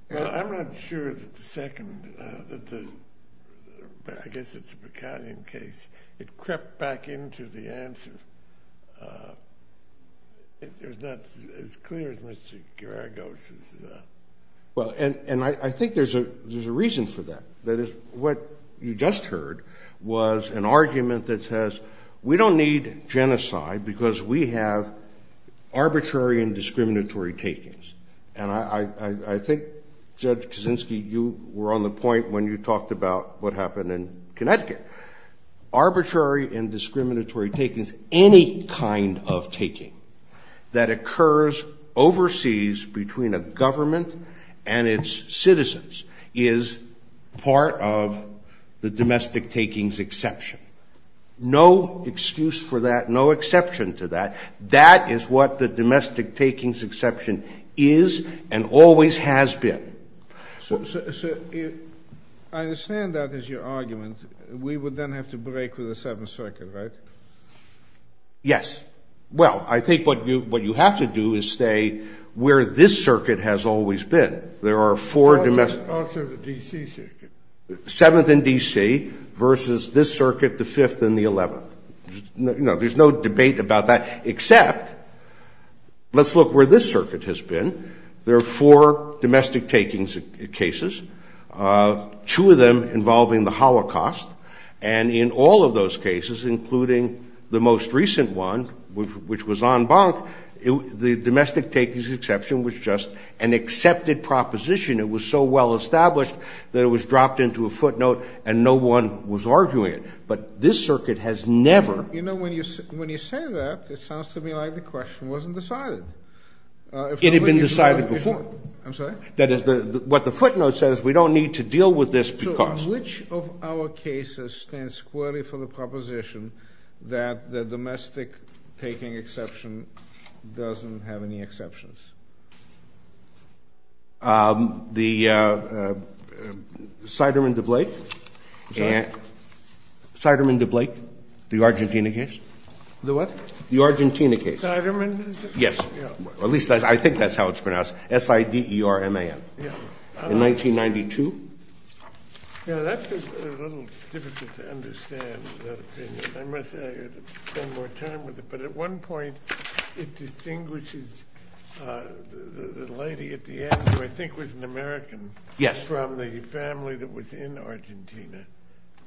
I'm not sure that the second—I guess it's a Bakalian case. It crept back into the answers. It's not as clear as Mr. Garagos. And I think there's a reason for that. That is, what you just heard was an argument that says, we don't need genocide because we have arbitrary and discriminatory takings. And I think, Judge Kaczynski, you were on the point when you talked about what happened in Connecticut. Arbitrary and discriminatory takings, any kind of taking that occurs overseas between a government and its citizens, is part of the domestic takings exception. No excuse for that, no exception to that. That is what the domestic takings exception is and always has been. So I understand that is your argument. We would then have to break with the Seventh Circuit, right? Yes. Well, I think what you have to do is say where this circuit has always been. There are four domestic— After the D.C. circuit. Seventh and D.C. versus this circuit, the Fifth and the Eleventh. No, there's no debate about that, except let's look where this circuit has been. There are four domestic takings cases, two of them involving the Holocaust, and in all of those cases, including the most recent one, which was en banc, the domestic takings exception was just an accepted proposition. It was so well established that it was dropped into a footnote and no one was arguing it. But this circuit has never— You know, when you say that, it sounds to me like the question wasn't decided. It had been decided before. I'm sorry? That is, what the footnote says, we don't need to deal with this because— So which of our cases stands squarely for the proposition that the domestic taking exception doesn't have any exceptions? The Seidermann-DeBlake. Seidermann-DeBlake, the Argentina case. The what? The Argentina case. Seidermann? Yes. At least, I think that's how it's pronounced. S-I-D-E-R-M-A-N. In 1992. That's a little difficult to understand. I must spend more time with it. But at one point, it distinguishes the lady at the end, who I think was an American, from the family that was in Argentina.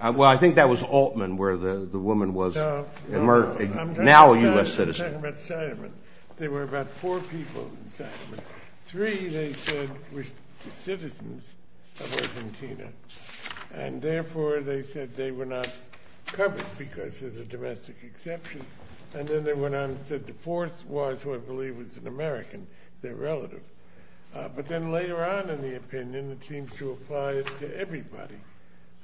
Well, I think that was Altman, where the woman was. Now a U.S. citizen. There were about four people in Seidermann. Three, they said, were citizens of Argentina, and therefore they said they were not covered because there's a domestic exception. And then they went on and said the fourth was, who I believe was an American, their relative. But then later on in the opinion, it seems to apply to everybody,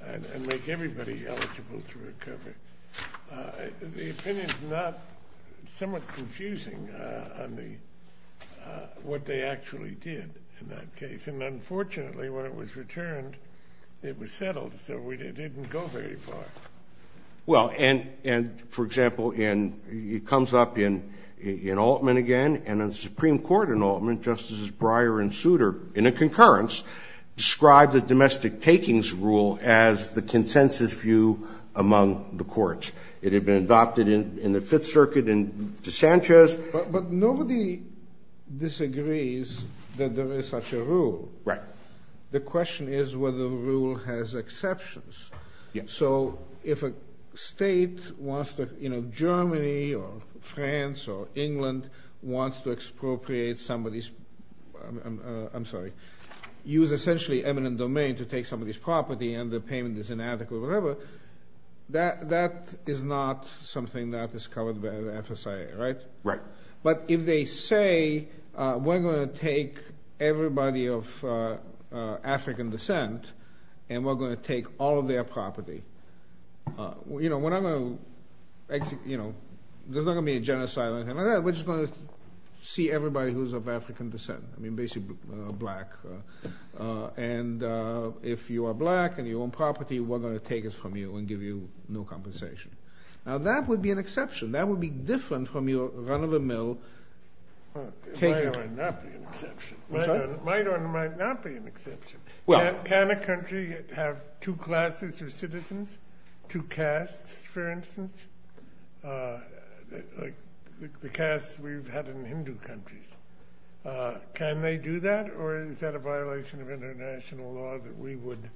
and make everybody eligible for recovery. The opinion's somewhat confusing on what they actually did in that case. And unfortunately, when it was returned, it was settled, so it didn't go very far. Well, and, for example, it comes up in Altman again, and the Supreme Court in Altman, Justices Breyer and Souter, in a concurrence, described the domestic takings rule as the consensus view among the courts. It had been adopted in the Fifth Circuit in DeSantos. But nobody disagrees that there is such a rule. Right. The question is whether the rule has exceptions. Yes. So if a state wants to, you know, Germany or France or England, wants to expropriate somebody's, I'm sorry, use essentially eminent domain to take somebody's property, and the payment is inadequate or whatever, that is not something that is covered by the FSA, right? Right. But if they say, we're going to take everybody of African descent, and we're going to take all of their property, you know, there's not going to be a genocide or anything like that. We're just going to see everybody who is of African descent, I mean basically black. And if you are black and you own property, we're going to take it from you and give you no compensation. Now that would be an exception. That would be different from your run-of-the-mill. It might or might not be an exception. Can a country have two classes of citizens, two castes, for instance? Like the castes we've had in Hindu countries. Can they do that, or is that a violation of international law that we would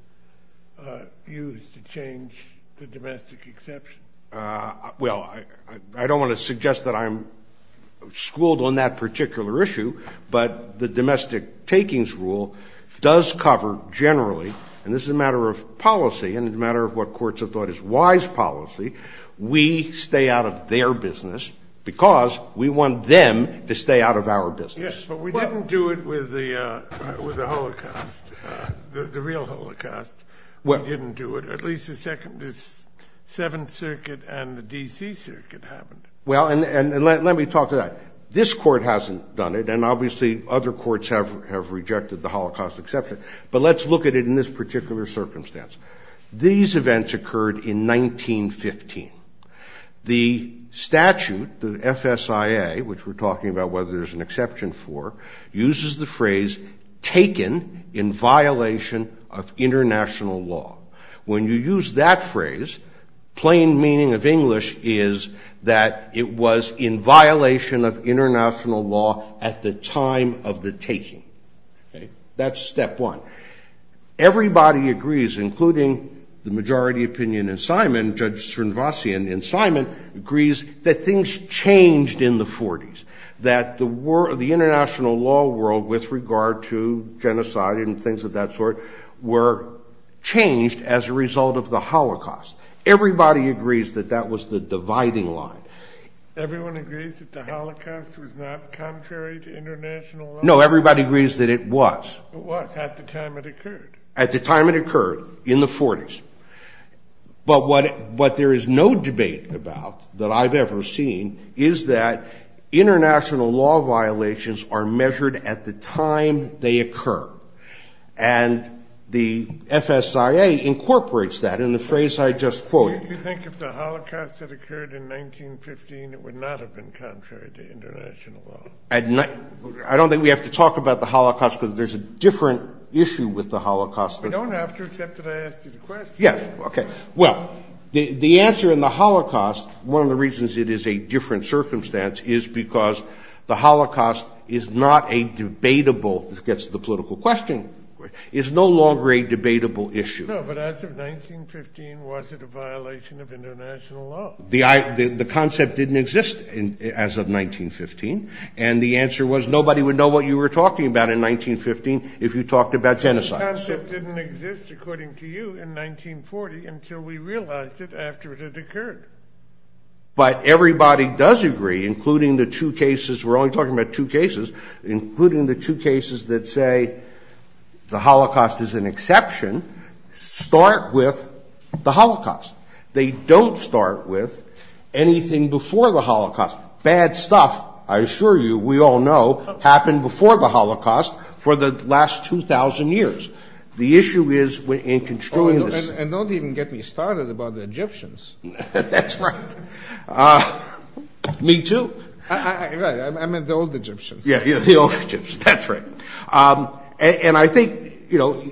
use to change the domestic exception? Well, I don't want to suggest that I'm schooled on that particular issue, but the domestic takings rule does cover generally, and this is a matter of policy and a matter of what courts have thought is wise policy, we stay out of their business because we want them to stay out of our business. Yes, but we didn't do it with the Holocaust, the real Holocaust. We didn't do it. At least the Seventh Circuit and the D.C. Circuit haven't. Well, and let me talk to that. This court hasn't done it, and obviously other courts have rejected the Holocaust exception, but let's look at it in this particular circumstance. These events occurred in 1915. The statute, the FSIA, which we're talking about whether there's an exception for, uses the phrase, taken in violation of international law. When you use that phrase, plain meaning of English is that it was in violation of international law at the time of the taking. That's step one. Everybody agrees, including the majority opinion in Simon, Judge Srinvasan in Simon, agrees that things changed in the 40s, that the international law world with regard to genocide and things of that sort were changed as a result of the Holocaust. Everybody agrees that that was the dividing line. Everyone agrees that the Holocaust was not contrary to international law? No, everybody agrees that it was. What, at the time it occurred? At the time it occurred, in the 40s. But what there is no debate about that I've ever seen is that international law violations are measured at the time they occur, and the FSIA incorporates that in the phrase I just quoted. Don't you think if the Holocaust had occurred in 1915, it would not have been contrary to international law? I don't think we have to talk about the Holocaust because there's a different issue with the Holocaust. We don't have to except that I asked you the question. Yes, okay. Well, the answer in the Holocaust, one of the reasons it is a different circumstance is because the Holocaust is not a debatable, this gets to the political question, is no longer a debatable issue. No, but as of 1915, was it a violation of international law? The concept didn't exist as of 1915, and the answer was nobody would know what you were talking about in 1915 if you talked about genocide. The concept didn't exist, according to you, in 1940 until we realized it after it had occurred. But everybody does agree, including the two cases, we're only talking about two cases, including the two cases that say the Holocaust is an exception, start with the Holocaust. They don't start with anything before the Holocaust. Bad stuff, I assure you, we all know, happened before the Holocaust for the last 2,000 years. The issue is in construing this. And don't even get me started about the Egyptians. That's right. Me too. Right, I meant the old Egyptians. Yeah, the old Egyptians, that's right. And I think, you know,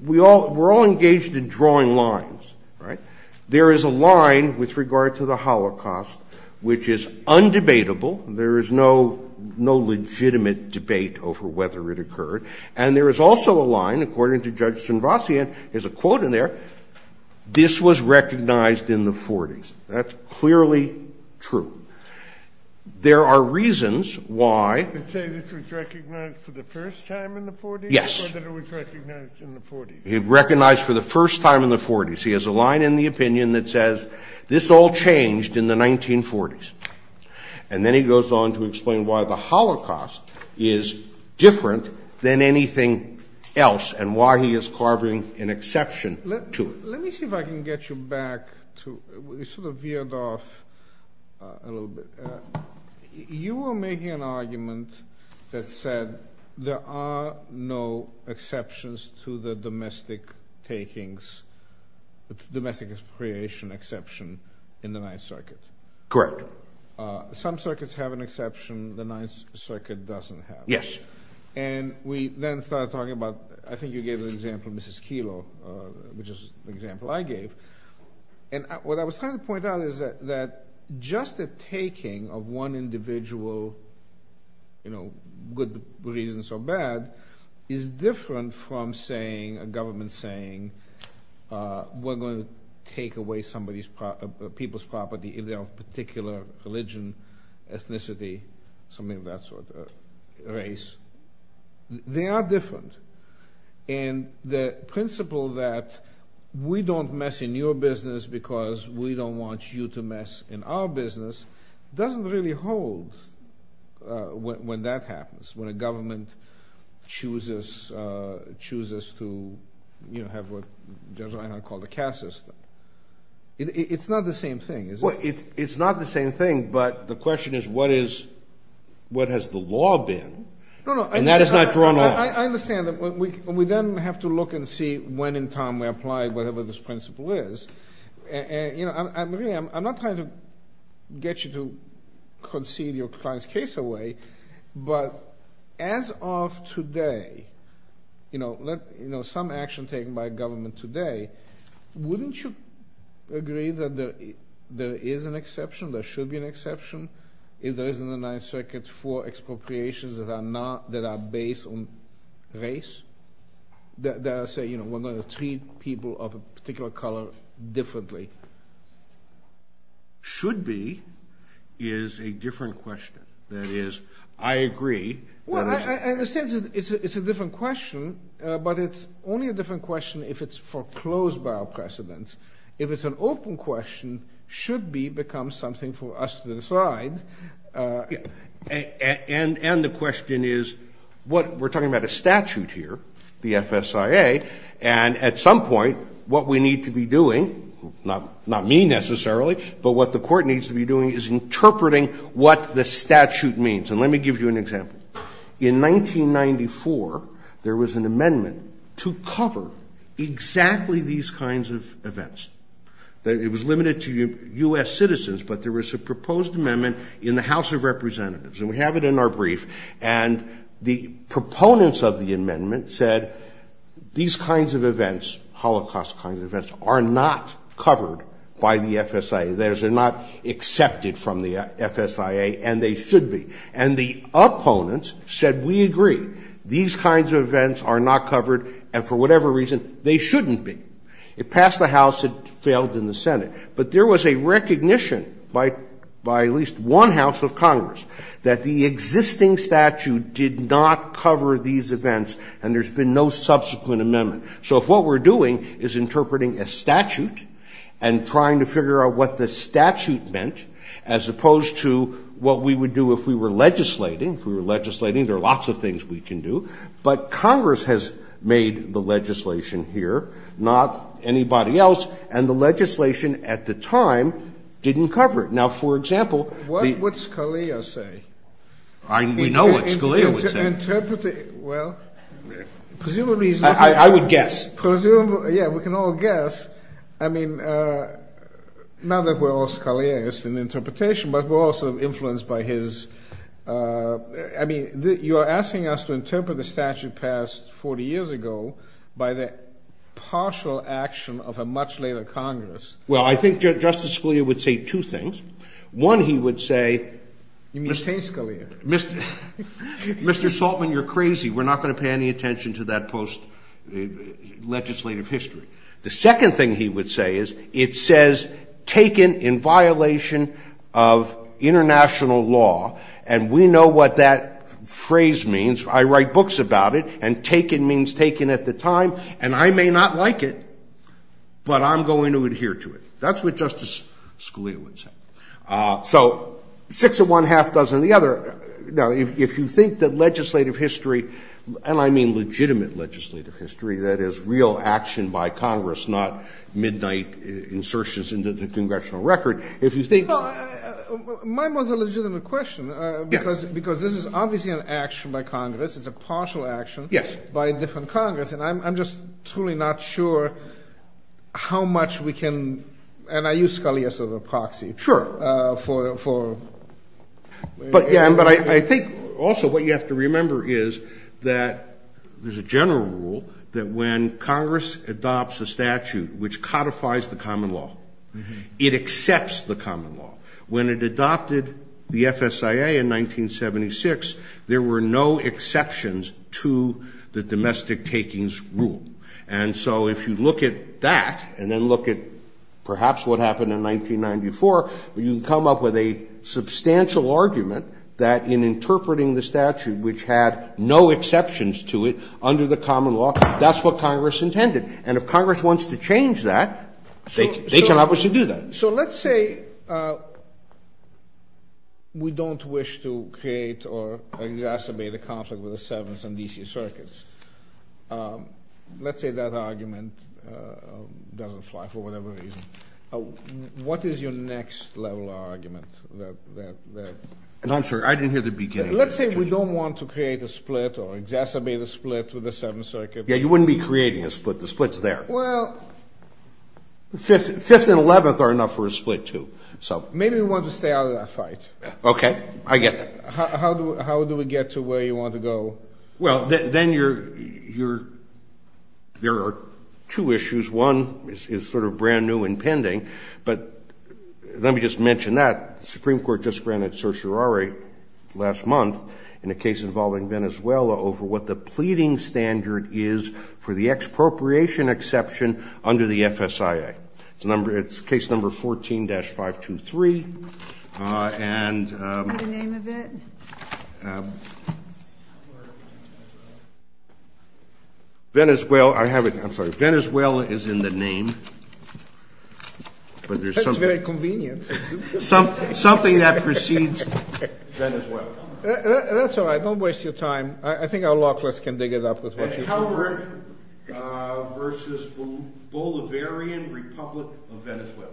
we're all engaged in drawing lines, right? There is a line with regard to the Holocaust, which is undebatable. There is no legitimate debate over whether it occurred. And there is also a line, according to Judge Sinvasian, there's a quote in there, this was recognized in the 40s. That's clearly true. There are reasons why. You're saying this was recognized for the first time in the 40s? Yes. Or that it was recognized in the 40s? It was recognized for the first time in the 40s. He has a line in the opinion that says, this all changed in the 1940s. And then he goes on to explain why the Holocaust is different than anything else, and why he is carving an exception to it. Let me see if I can get you back to, sort of veered off a little bit. You were making an argument that said, there are no exceptions to the domestic takings, the domestic creation exception in the Ninth Circuit. Correct. Some circuits have an exception, the Ninth Circuit doesn't have it. Yes. And we then started talking about, I think you gave an example, Mrs. Kilo, which is an example I gave. And what I was trying to point out is that, just the taking of one individual, you know, good reasons or bad, is different from saying, a government saying, we're going to take away people's property if they're of a particular religion, ethnicity, something of that sort, race. They are different. And the principle that we don't mess in your business because we don't want you to mess in our business, doesn't really hold when that happens, when a government chooses to, you know, have what I call the cash system. It's not the same thing, is it? It's not the same thing, but the question is, what has the law been? And that is not to run along. I understand that. We then have to look and see when in time we apply whatever this principle is. I'm not trying to get you to concede your client's case away, but as of today, you know, some action taken by government today, wouldn't you agree that there is an exception, there should be an exception, if there is in the Ninth Circuit for expropriations that are based on race, that say, you know, we're going to treat people of a particular color differently? Should be is a different question. That is, I agree. Well, in a sense, it's a different question, but it's only a different question if it's foreclosed by our precedents. If it's an open question, should be becomes something for us to decide. And the question is, we're talking about a statute here, the FSIA, and at some point what we need to be doing, not me necessarily, but what the court needs to be doing is interpreting what the statute means. And let me give you an example. In 1994, there was an amendment to cover exactly these kinds of events. It was limited to U.S. citizens, but there was a proposed amendment in the House of Representatives, and we have it in our brief, and the proponents of the amendment said, these kinds of events, Holocaust kinds of events, are not covered by the FSIA. That is, they're not accepted from the FSIA, and they should be. And the opponents said, we agree. These kinds of events are not covered, and for whatever reason, they shouldn't be. It passed the House, it failed in the Senate. But there was a recognition by at least one House of Congress that the existing statute did not cover these events, and there's been no subsequent amendment. So if what we're doing is interpreting a statute and trying to figure out what the statute meant, as opposed to what we would do if we were legislating, if we were legislating, there are lots of things we can do, but Congress has made the legislation here, not anybody else, and the legislation at the time didn't cover it. Now, for example... What would Scalia say? We know what Scalia would say. Interpreting, well, presumably... I would guess. Presumably, yeah, we can all guess. I mean, not that we're all Scaliaists in interpretation, but we're also influenced by his... I mean, you're asking us to interpret the statute passed 40 years ago by the partial action of a much later Congress. Well, I think Justice Scalia would say two things. One, he would say... You're saying Scalia. Mr. Saltman, you're crazy. We're not going to pay any attention to that post-legislative history. The second thing he would say is, it says, taken in violation of international law, and we know what that phrase means. I write books about it, and taken means taken at the time, and I may not like it, but I'm going to adhere to it. That's what Justice Scalia would say. So, six of one, half dozen of the other. Now, if you think that legislative history, and I mean legitimate legislative history, that is real action by Congress, not midnight insertions into the congressional record, if you think... Well, mine was a legitimate question, because this is obviously an action by Congress. It's a partial action by a different Congress, and I'm just truly not sure how much we can... And I use Scalia as a proxy for... But I think also what you have to remember is that there's a general rule that when Congress adopts a statute which codifies the common law, it accepts the common law. When it adopted the FSIA in 1976, there were no exceptions to the domestic takings rule. And so if you look at that, and then look at perhaps what happened in 1994, you can come up with a substantial argument that in interpreting the statute, which had no exceptions to it under the common law, that's what Congress intended. And if Congress wants to change that, they can obviously do that. So let's say we don't wish to create or exacerbate a conflict with the 7th and DC circuits. Let's say that argument doesn't apply for whatever reason. What is your next level argument? I'm sorry, I didn't hear the beginning. Let's say we don't want to create a split or exacerbate a split with the 7th circuit. Yeah, you wouldn't be creating a split. The split's there. Well... The 5th and 11th are enough for a split, too. Maybe we want to stay out of that fight. Okay, I guess. How do we get to where you want to go? Well, then there are two issues. One is sort of brand new and pending, but let me just mention that. The Supreme Court just granted certiorari last month in a case involving Venezuela over what the pleading standard is for the expropriation exception under the FSIA. It's case number 14-523. And... What's the name of it? Venezuela. Venezuela is in the name. That's very convenient. Something that precedes Venezuela. That's all right. Don't waste your time. I think our law clerks can dig it up with what you've heard. versus Bolivarian Republic of Venezuela.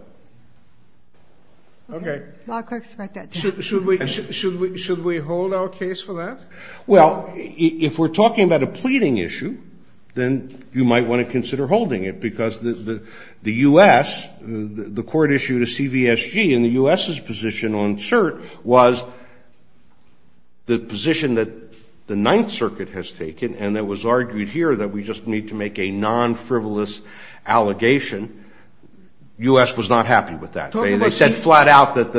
Okay. Should we hold our case for that? Well, if we're talking about a pleading issue, then you might want to consider holding it, because the U.S., the court issued a CVSG, and the U.S.'s position on cert was the position that the Ninth Circuit has taken, and it was argued here that we just need to make a non-frivolous allegation. The U.S. was not happy with that. They said flat out that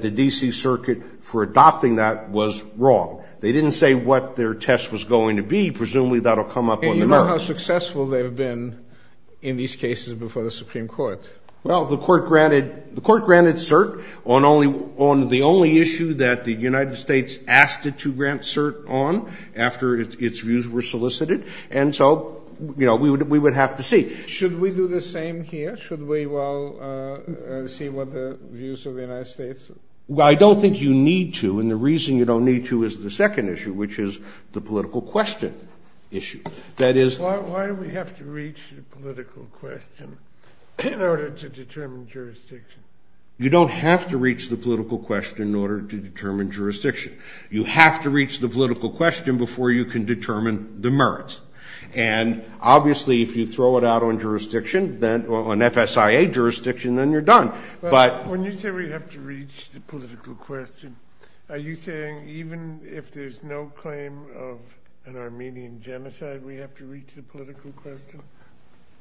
the D.C. Circuit for adopting that was wrong. They didn't say what their test was going to be. Presumably that will come up on the merits. And you know how successful they have been in these cases before the Supreme Court. Well, the court granted cert on the only issue that the United States asked it to grant cert on after its views were solicited, and so, you know, we would have to see. Should we do the same here? Should we, well, see what the views of the United States... Well, I don't think you need to, and the reason you don't need to is the second issue, which is the political question issue. That is... Why do we have to reach the political question in order to determine jurisdiction? You don't have to reach the political question in order to determine jurisdiction. You have to reach the political question before you can determine the merits. And obviously, if you throw it out on jurisdiction, on FSIA jurisdiction, then you're done, but... When you say we have to reach the political question, are you saying even if there's no claim of an Armenian genocide, we have to reach the political question?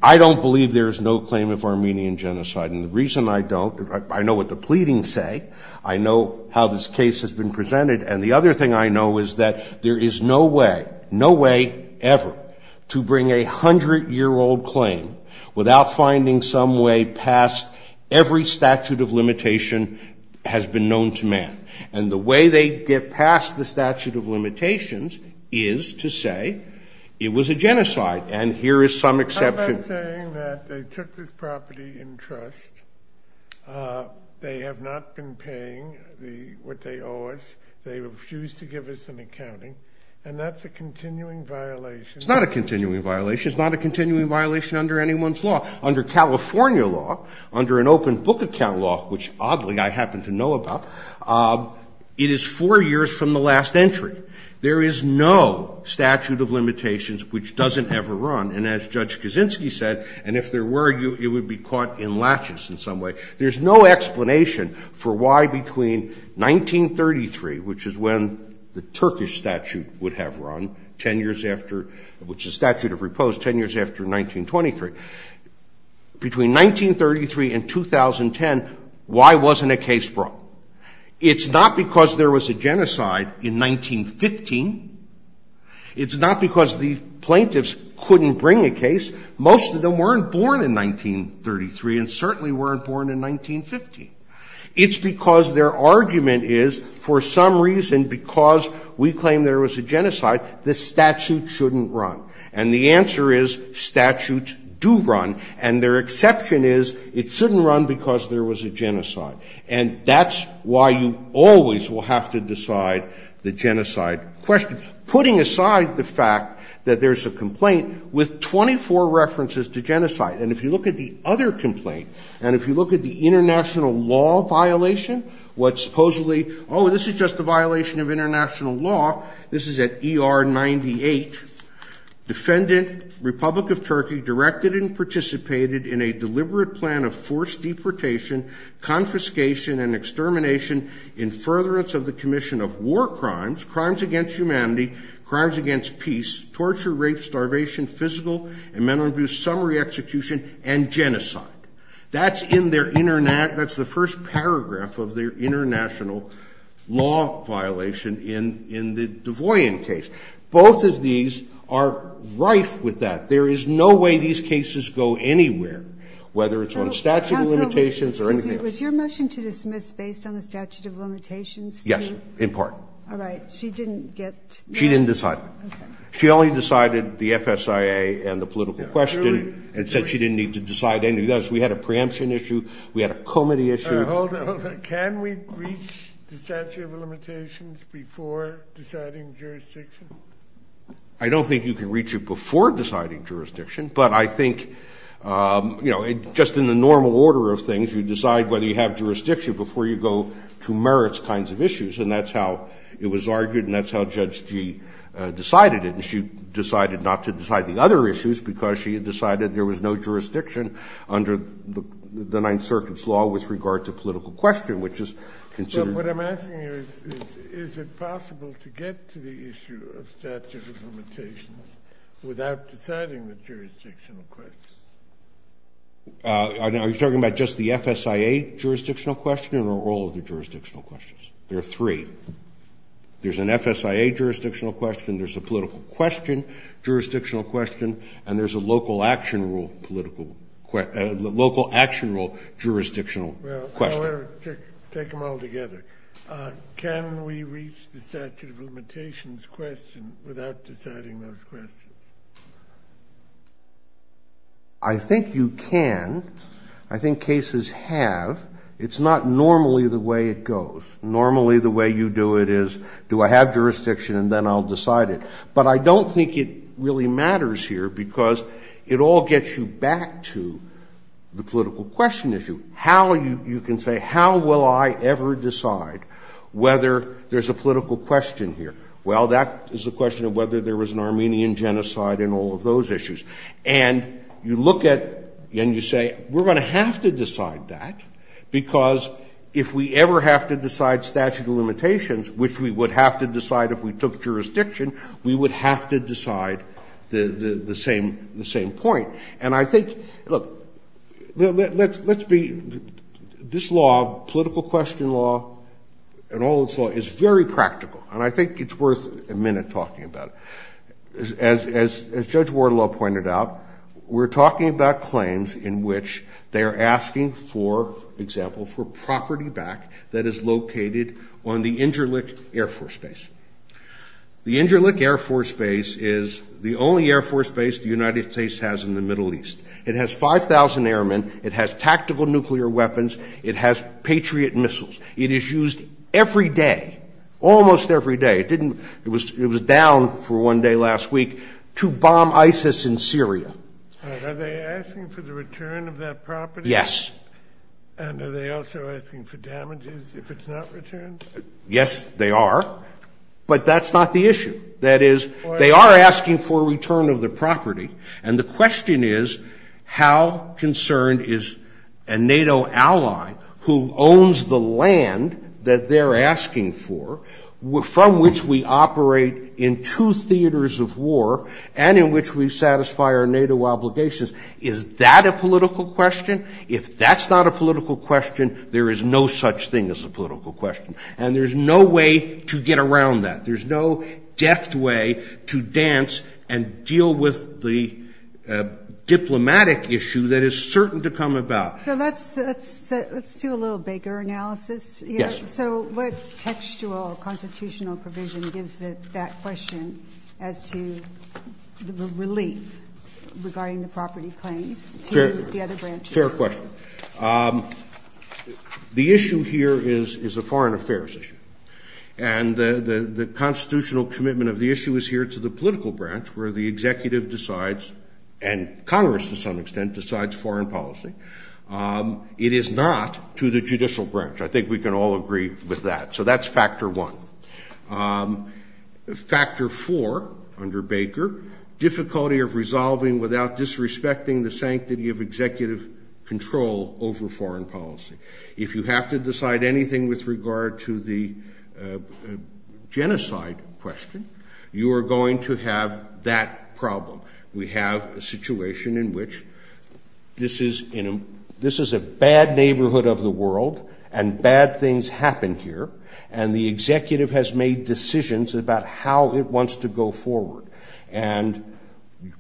I don't believe there's no claim of Armenian genocide, and the reason I don't, I know what the pleadings say, I know how this case has been presented, and the other thing I know is that there is no way, no way ever, to bring a hundred-year-old claim without finding some way past every statute of limitation has been known to man. And the way they get past the statute of limitations is to say it was a genocide, and here is some exception... I'm not saying that they took this property in trust, they have not been paying what they owe us, they refuse to give us an accounting, and that's a continuing violation... It's not a continuing violation. It's not a continuing violation under anyone's law. Under California law, under an open book account law, which oddly I happen to know about, it is four years from the last entry. There is no statute of limitations which doesn't ever run, and as Judge Kaczynski said, and if there were, it would be caught in latches in some way, there's no explanation for why between 1933, which is when the Turkish statute would have run, ten years after... which is the statute of repose, ten years after 1923, between 1933 and 2010, why wasn't a case brought? It's not because there was a genocide in 1915, it's not because the plaintiffs couldn't bring a case, most of them weren't born in 1933, and certainly weren't born in 1915. It's because their argument is, for some reason, because we claim there was a genocide, the statute shouldn't run. And the answer is, statutes do run, and their exception is, it shouldn't run because there was a genocide. And that's why you always will have to decide the genocide question. Putting aside the fact that there's a complaint with 24 references to genocide, and if you look at the other complaint, and if you look at the international law violation, what supposedly... oh, this is just a violation of international law, this is at ER 98, defendant, Republic of Turkey, directed and participated in a deliberate plan of forced deportation, confiscation and extermination, in furtherance of the commission of war crimes, crimes against humanity, crimes against peace, torture, rape, starvation, physical and mental abuse, summary execution, and genocide. That's in their... that's the first paragraph of their international law violation in the Du Bois case. Both of these are rife with that. There is no way these cases go anywhere, whether it's on statute of limitations or anything else. Was your motion to dismiss based on the statute of limitations? Yes, in part. All right. She didn't get... She didn't decide. She only decided the FSIA and the political question, and said she didn't need to decide anything else. We had a preemption issue, we had a comity issue... Well, can we reach the statute of limitations before deciding jurisdiction? I don't think you can reach it before deciding jurisdiction, but I think, you know, just in the normal order of things, you decide whether you have jurisdiction before you go to merits kinds of issues, and that's how it was argued, and that's how Judge Gee decided it. She decided not to decide the other issues, because she decided there was no jurisdiction under the Ninth Circuit's law with regard to political question, which is considered... But what I'm asking is, is it possible to get to the issue of statute of limitations without deciding the jurisdictional questions? Are you talking about just the FSIA jurisdictional question, or all of the jurisdictional questions? There are three. There's an FSIA jurisdictional question, there's a political question jurisdictional question, and there's a local action rule jurisdictional question. Take them all together. Can we reach the statute of limitations question without deciding those questions? I think you can. I think cases have. It's not normally the way it goes. Normally the way you do it is, do I have jurisdiction, and then I'll decide it. But I don't think it really matters here, because it all gets you back to the political question issue. You can say, how will I ever decide whether there's a political question here? Well, that is a question of whether there was an Armenian genocide and all of those issues. And you look at, and you say, we're going to have to decide that, because if we ever have to decide statute of limitations, which we would have to decide if we took jurisdiction, we would have to decide the same point. And I think, look, let's be, this law, political question law, and all this law, is very practical, and I think it's worth a minute talking about it. As Judge Wardlaw pointed out, we're talking about claims in which they're asking for, for example, for property back that is located on the Inderlich Air Force Base. The Inderlich Air Force Base is the only Air Force Base the United States has in the Middle East. It has 5,000 airmen, it has tactical nuclear weapons, it has Patriot missiles. It is used every day, almost every day, it was down for one day last week, to bomb ISIS in Syria. Are they asking for the return of that property? Yes. And are they also asking for damages if it's not returned? Yes, they are, but that's not the issue. That is, they are asking for return of the property, and the question is, how concerned is a NATO ally who owns the land that they're asking for, from which we operate in two theaters of war, and in which we satisfy our NATO obligations, is that a political question? If that's not a political question, there is no such thing as a political question. And there's no way to get around that. There's no deft way to dance and deal with the diplomatic issue that is certain to come about. So let's do a little bigger analysis. Yes. So what textual, constitutional provision gives it that question as to the relief regarding the property claims? Fair question. The issue here is a foreign affairs issue. And the constitutional commitment of the issue is here to the political branch, where the executive decides, and Congress to some extent decides, foreign policy. It is not to the judicial branch. I think we can all agree with that. So that's factor one. Factor four, under Baker, difficulty of resolving without disrespecting the sanctity of executive control over foreign policy. If you have to decide anything with regard to the genocide question, you are going to have that problem. We have a situation in which this is a bad neighborhood of the world, and bad things happen here, and the executive has made decisions about how it wants to go forward. And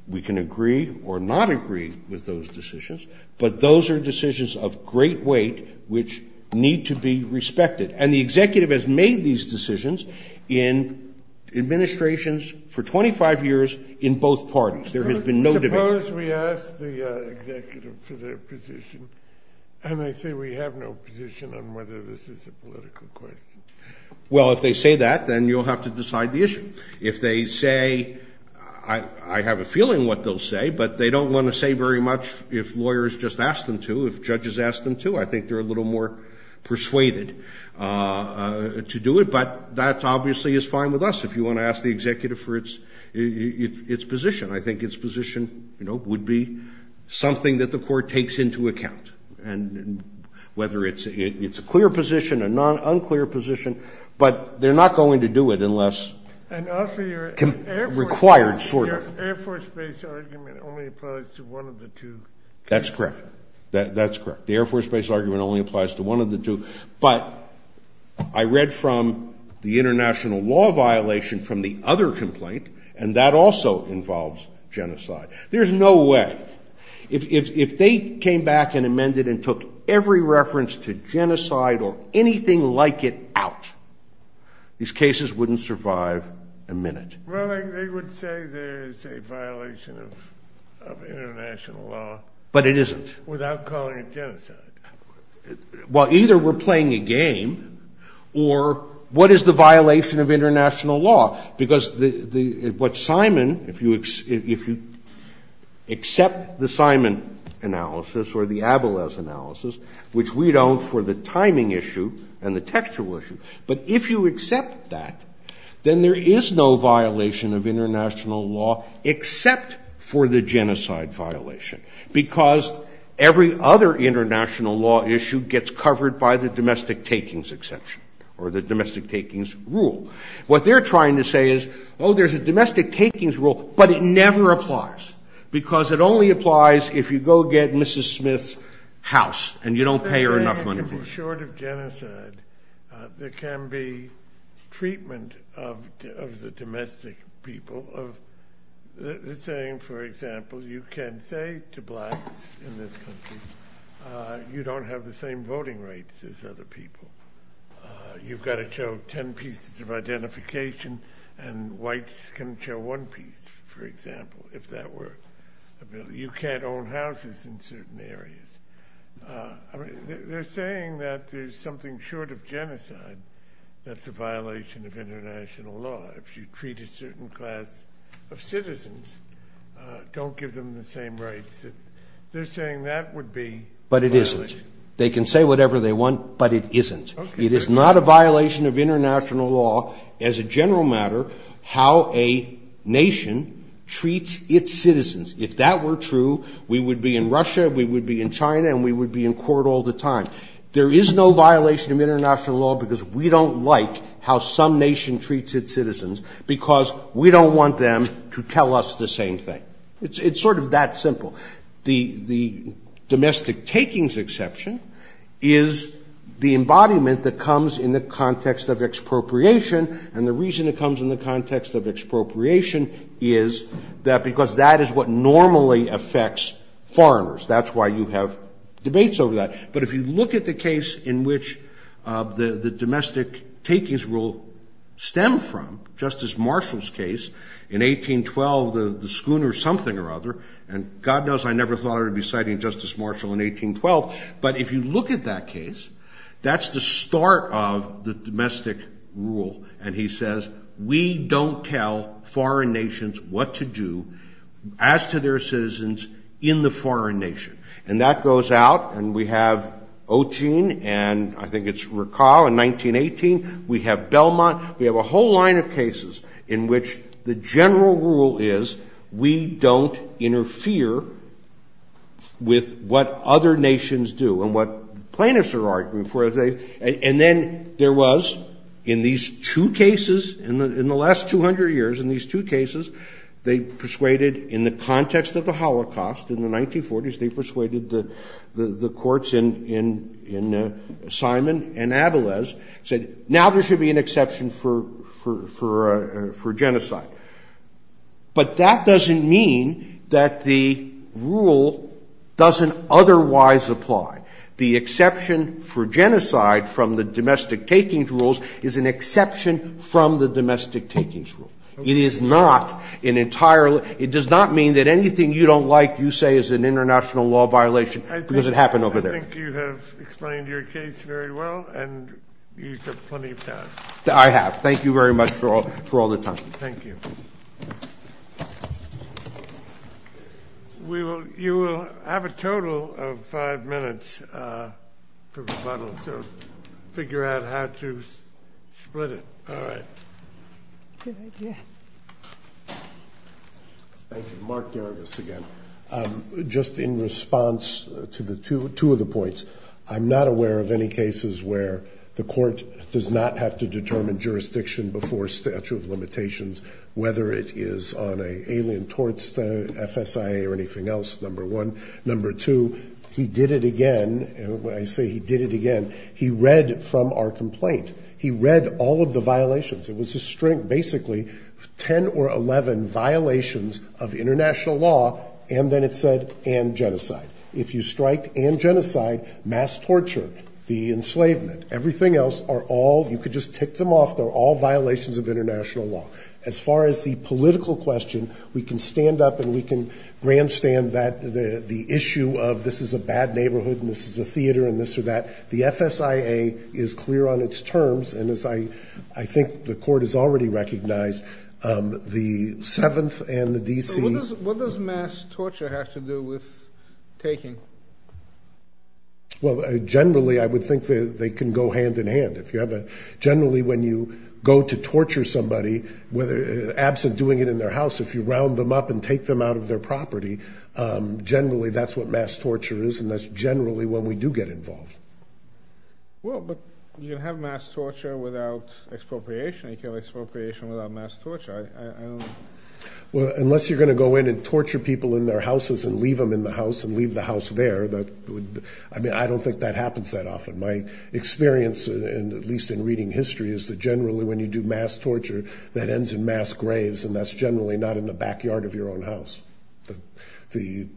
we can agree or not agree with those decisions, but those are decisions of great weight which need to be respected. And the executive has made these decisions in administrations for 25 years in both parties. There has been no debate. Suppose we ask the executive for their position, and they say we have no position on whether this is a political question. Well, if they say that, then you'll have to decide the issue. If they say, I have a feeling what they'll say, but they don't want to say very much if lawyers just ask them to, if judges ask them to, I think they're a little more persuaded to do it. But that obviously is fine with us if you want to ask the executive for its position. I think its position would be something that the court takes into account, whether it's a clear position, a non-clear position, but they're not going to do it unless... Required, sort of. The Air Force base argument only applies to one of the two. That's correct. That's correct. The Air Force base argument only applies to one of the two. But I read from the international law violation from the other complaint, and that also involves genocide. There's no way. If they came back and amended and took every reference to genocide or anything like it out, these cases wouldn't survive a minute. Well, they would say there's a violation of international law... But it isn't. ...without calling it genocide. Well, either we're playing a game, or what is the violation of international law? Because what Simon, if you accept the Simon analysis or the Abeles analysis, which we don't for the timing issue and the textual issue, but if you accept that, then there is no violation of international law except for the genocide violation, because every other international law issue gets covered by the domestic takings exception or the domestic takings rule. What they're trying to say is, oh, there's a domestic takings rule, but it never applies, because it only applies if you go get Mrs. Smith's house, and you don't pay her enough money. In short of genocide, there can be treatment of the domestic people. They're saying, for example, you can't say to blacks in this country, you don't have the same voting rights as other people. You've got to show 10 pieces of identification, and whites can show one piece, for example, if that were a bill. You can't own houses in certain areas. They're saying that there's something short of genocide that's a violation of international law. If you treat a certain class of citizens, don't give them the same rights. They're saying that would be a violation. But it isn't. They can say whatever they want, but it isn't. It is not a violation of international law as a general matter how a nation treats its citizens. If that were true, we would be in Russia, we would be in China, and we would be in court all the time. There is no violation of international law because we don't like how some nation treats its citizens because we don't want them to tell us the same thing. It's sort of that simple. The domestic takings exception is the embodiment that comes in the context of expropriation, and the reason it comes in the context of expropriation is because that is what normally affects foreigners. That's why you have debates over that. But if you look at the case in which the domestic takings rule stemmed from, Justice Marshall's case in 1812, the Schooner something or other, and God knows I never thought I would be citing Justice Marshall in 1812, but if you look at that case, that's the start of the domestic rule. And he says, We don't tell foreign nations what to do as to their citizens in the foreign nation. And that goes out, and we have Ogin, and I think it's Rakal in 1918, we have Belmont, we have a whole line of cases in which the general rule is we don't interfere with what other nations do and what plaintiffs are arguing for. And then there was, in these two cases, in the last 200 years, in these two cases, they persuaded, in the context of the Holocaust, in the 1940s, they persuaded the courts in Simon and Adelaide, said, Now there should be an exception for genocide. But that doesn't mean that the rule doesn't otherwise apply. The exception for genocide from the domestic takings rules is an exception from the domestic takings rules. It is not an entirely, it does not mean that anything you don't like, you say is an international law violation because it happened over there. I think you have explained your case very well, and you have plenty of time. I have. Thank you very much for all the time. Thank you. We will, you will have a total of five minutes to figure out how to split it. All right. Thank you. Mark Davis again. Just in response to the two, two of the points, I'm not aware of any cases where the court does not have to determine jurisdiction before statute of limitations whether it is on an alien torts, FSIA or anything else, number one. Number two, he did it again. When I say he did it again, he read from our complaint. He read all of the violations. It was a string, basically 10 or 11 violations of international law. And then it said, and genocide. If you strike and genocide, mass torture, the enslavement, everything else are all, you could just take them off. They're all violations of international law. As far as the political question, we can stand up and we can grandstand that the issue of this is a bad neighborhood and this is a theater and this or that, the FSIA is clear on its terms. And as I, I think the court has already recognized the seventh and the DC. What does mass torture have to do with taking? Well, generally I would think that they can go hand in hand. If you have a generally, when you go to torture somebody, whether absent doing it in their house, if you round them up and take them out of their property, generally, that's what mass torture is. And that's generally when we do get involved. Well, but you have mass torture without expropriation. You can have expropriation without mass torture. Well, unless you're going to go in and torture people in their houses and leave them in the house and leave the house there, that would, I mean, I don't think that happens that often. My experience, and at least in reading history, is that generally when you do mass torture, that ends in mass graves. And that's generally not in the backyard of your own house. The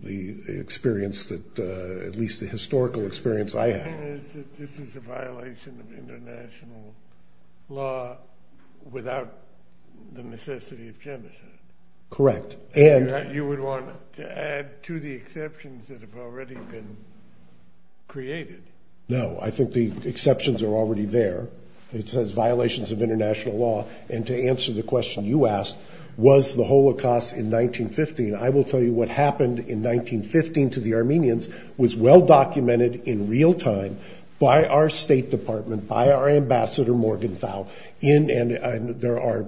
experience that, at least the historical experience I have. This is a violation of international law without the necessity of genocide. Correct. And you would want to add to the exceptions that have already been created. No, I think the exceptions are already there. It says violations of international law and to answer the question you asked, was the Holocaust in 1915. I will tell you what happened in 1915 to the Armenians was well documented in real time by our state department, by our ambassador, Morgenthau, and there are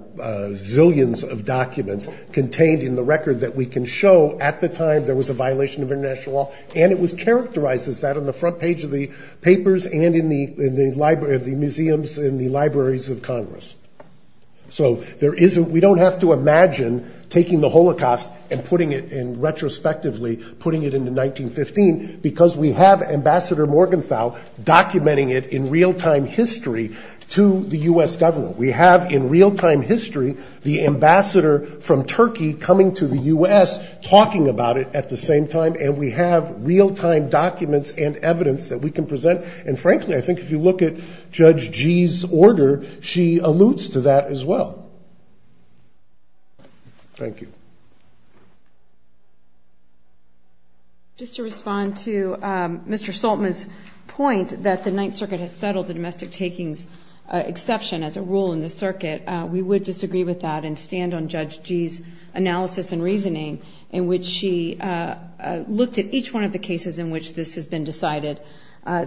zillions of documents contained in the record that we can show at the time there was a violation of international law. And it was characterized as that on the front page of the papers and in the museums and the libraries of Congress. So we don't have to imagine taking the Holocaust and putting it in retrospectively, putting it into 1915 because we have Ambassador Morgenthau documenting it in real time history to the U.S. government. We have in real time history the ambassador from Turkey coming to the U.S. talking about it at the same time and we have real time documents and evidence that we can present. And frankly, I think if you look at Judge Gee's order, she alludes to that as well. Thank you. Just to respond to Mr. Saltman's point that the Ninth Circuit has settled the domestic takings exception as a rule in the circuit, we would disagree with that and stand on Judge Gee's analysis and reasoning in which she looked at each one of the cases in which this has been decided,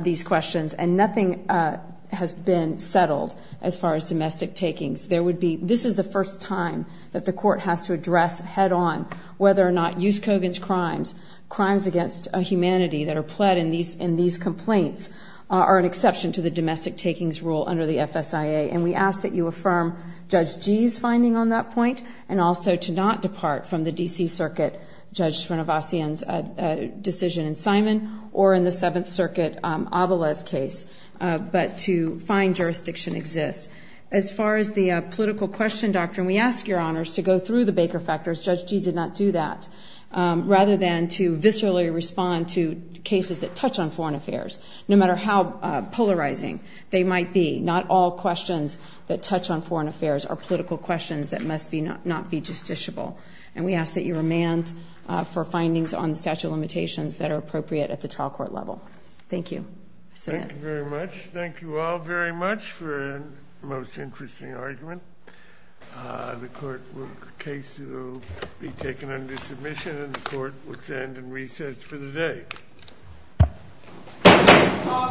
these questions. And nothing has been settled as far as domestic takings. This is the first time that the court has to address head-on whether or not Yuskovin's crimes, crimes against humanity that are pled in these complaints are an exception to the domestic takings rule under the FSIA. And we ask that you affirm Judge Gee's finding on that point and also to not depart from the D.C. Circuit for Judge Srinivasan's decision in Simon or in the Seventh Circuit Avala's case, but to find jurisdiction exists. As far as the political question, Doctor, and we ask your honors to go through the Baker factors. Judge Gee did not do that. Rather than to viscerally respond to cases that touch on foreign affairs, no matter how polarizing they might be, not all questions that touch on foreign affairs are political questions that must not be justiciable. And we ask that you remand for findings on statute of limitations that are appropriate at the trial court level. Thank you. Thank you very much. Thank you all very much for a most interesting argument. The case will be taken under submission, and the court will stand in recess for the day. All rise.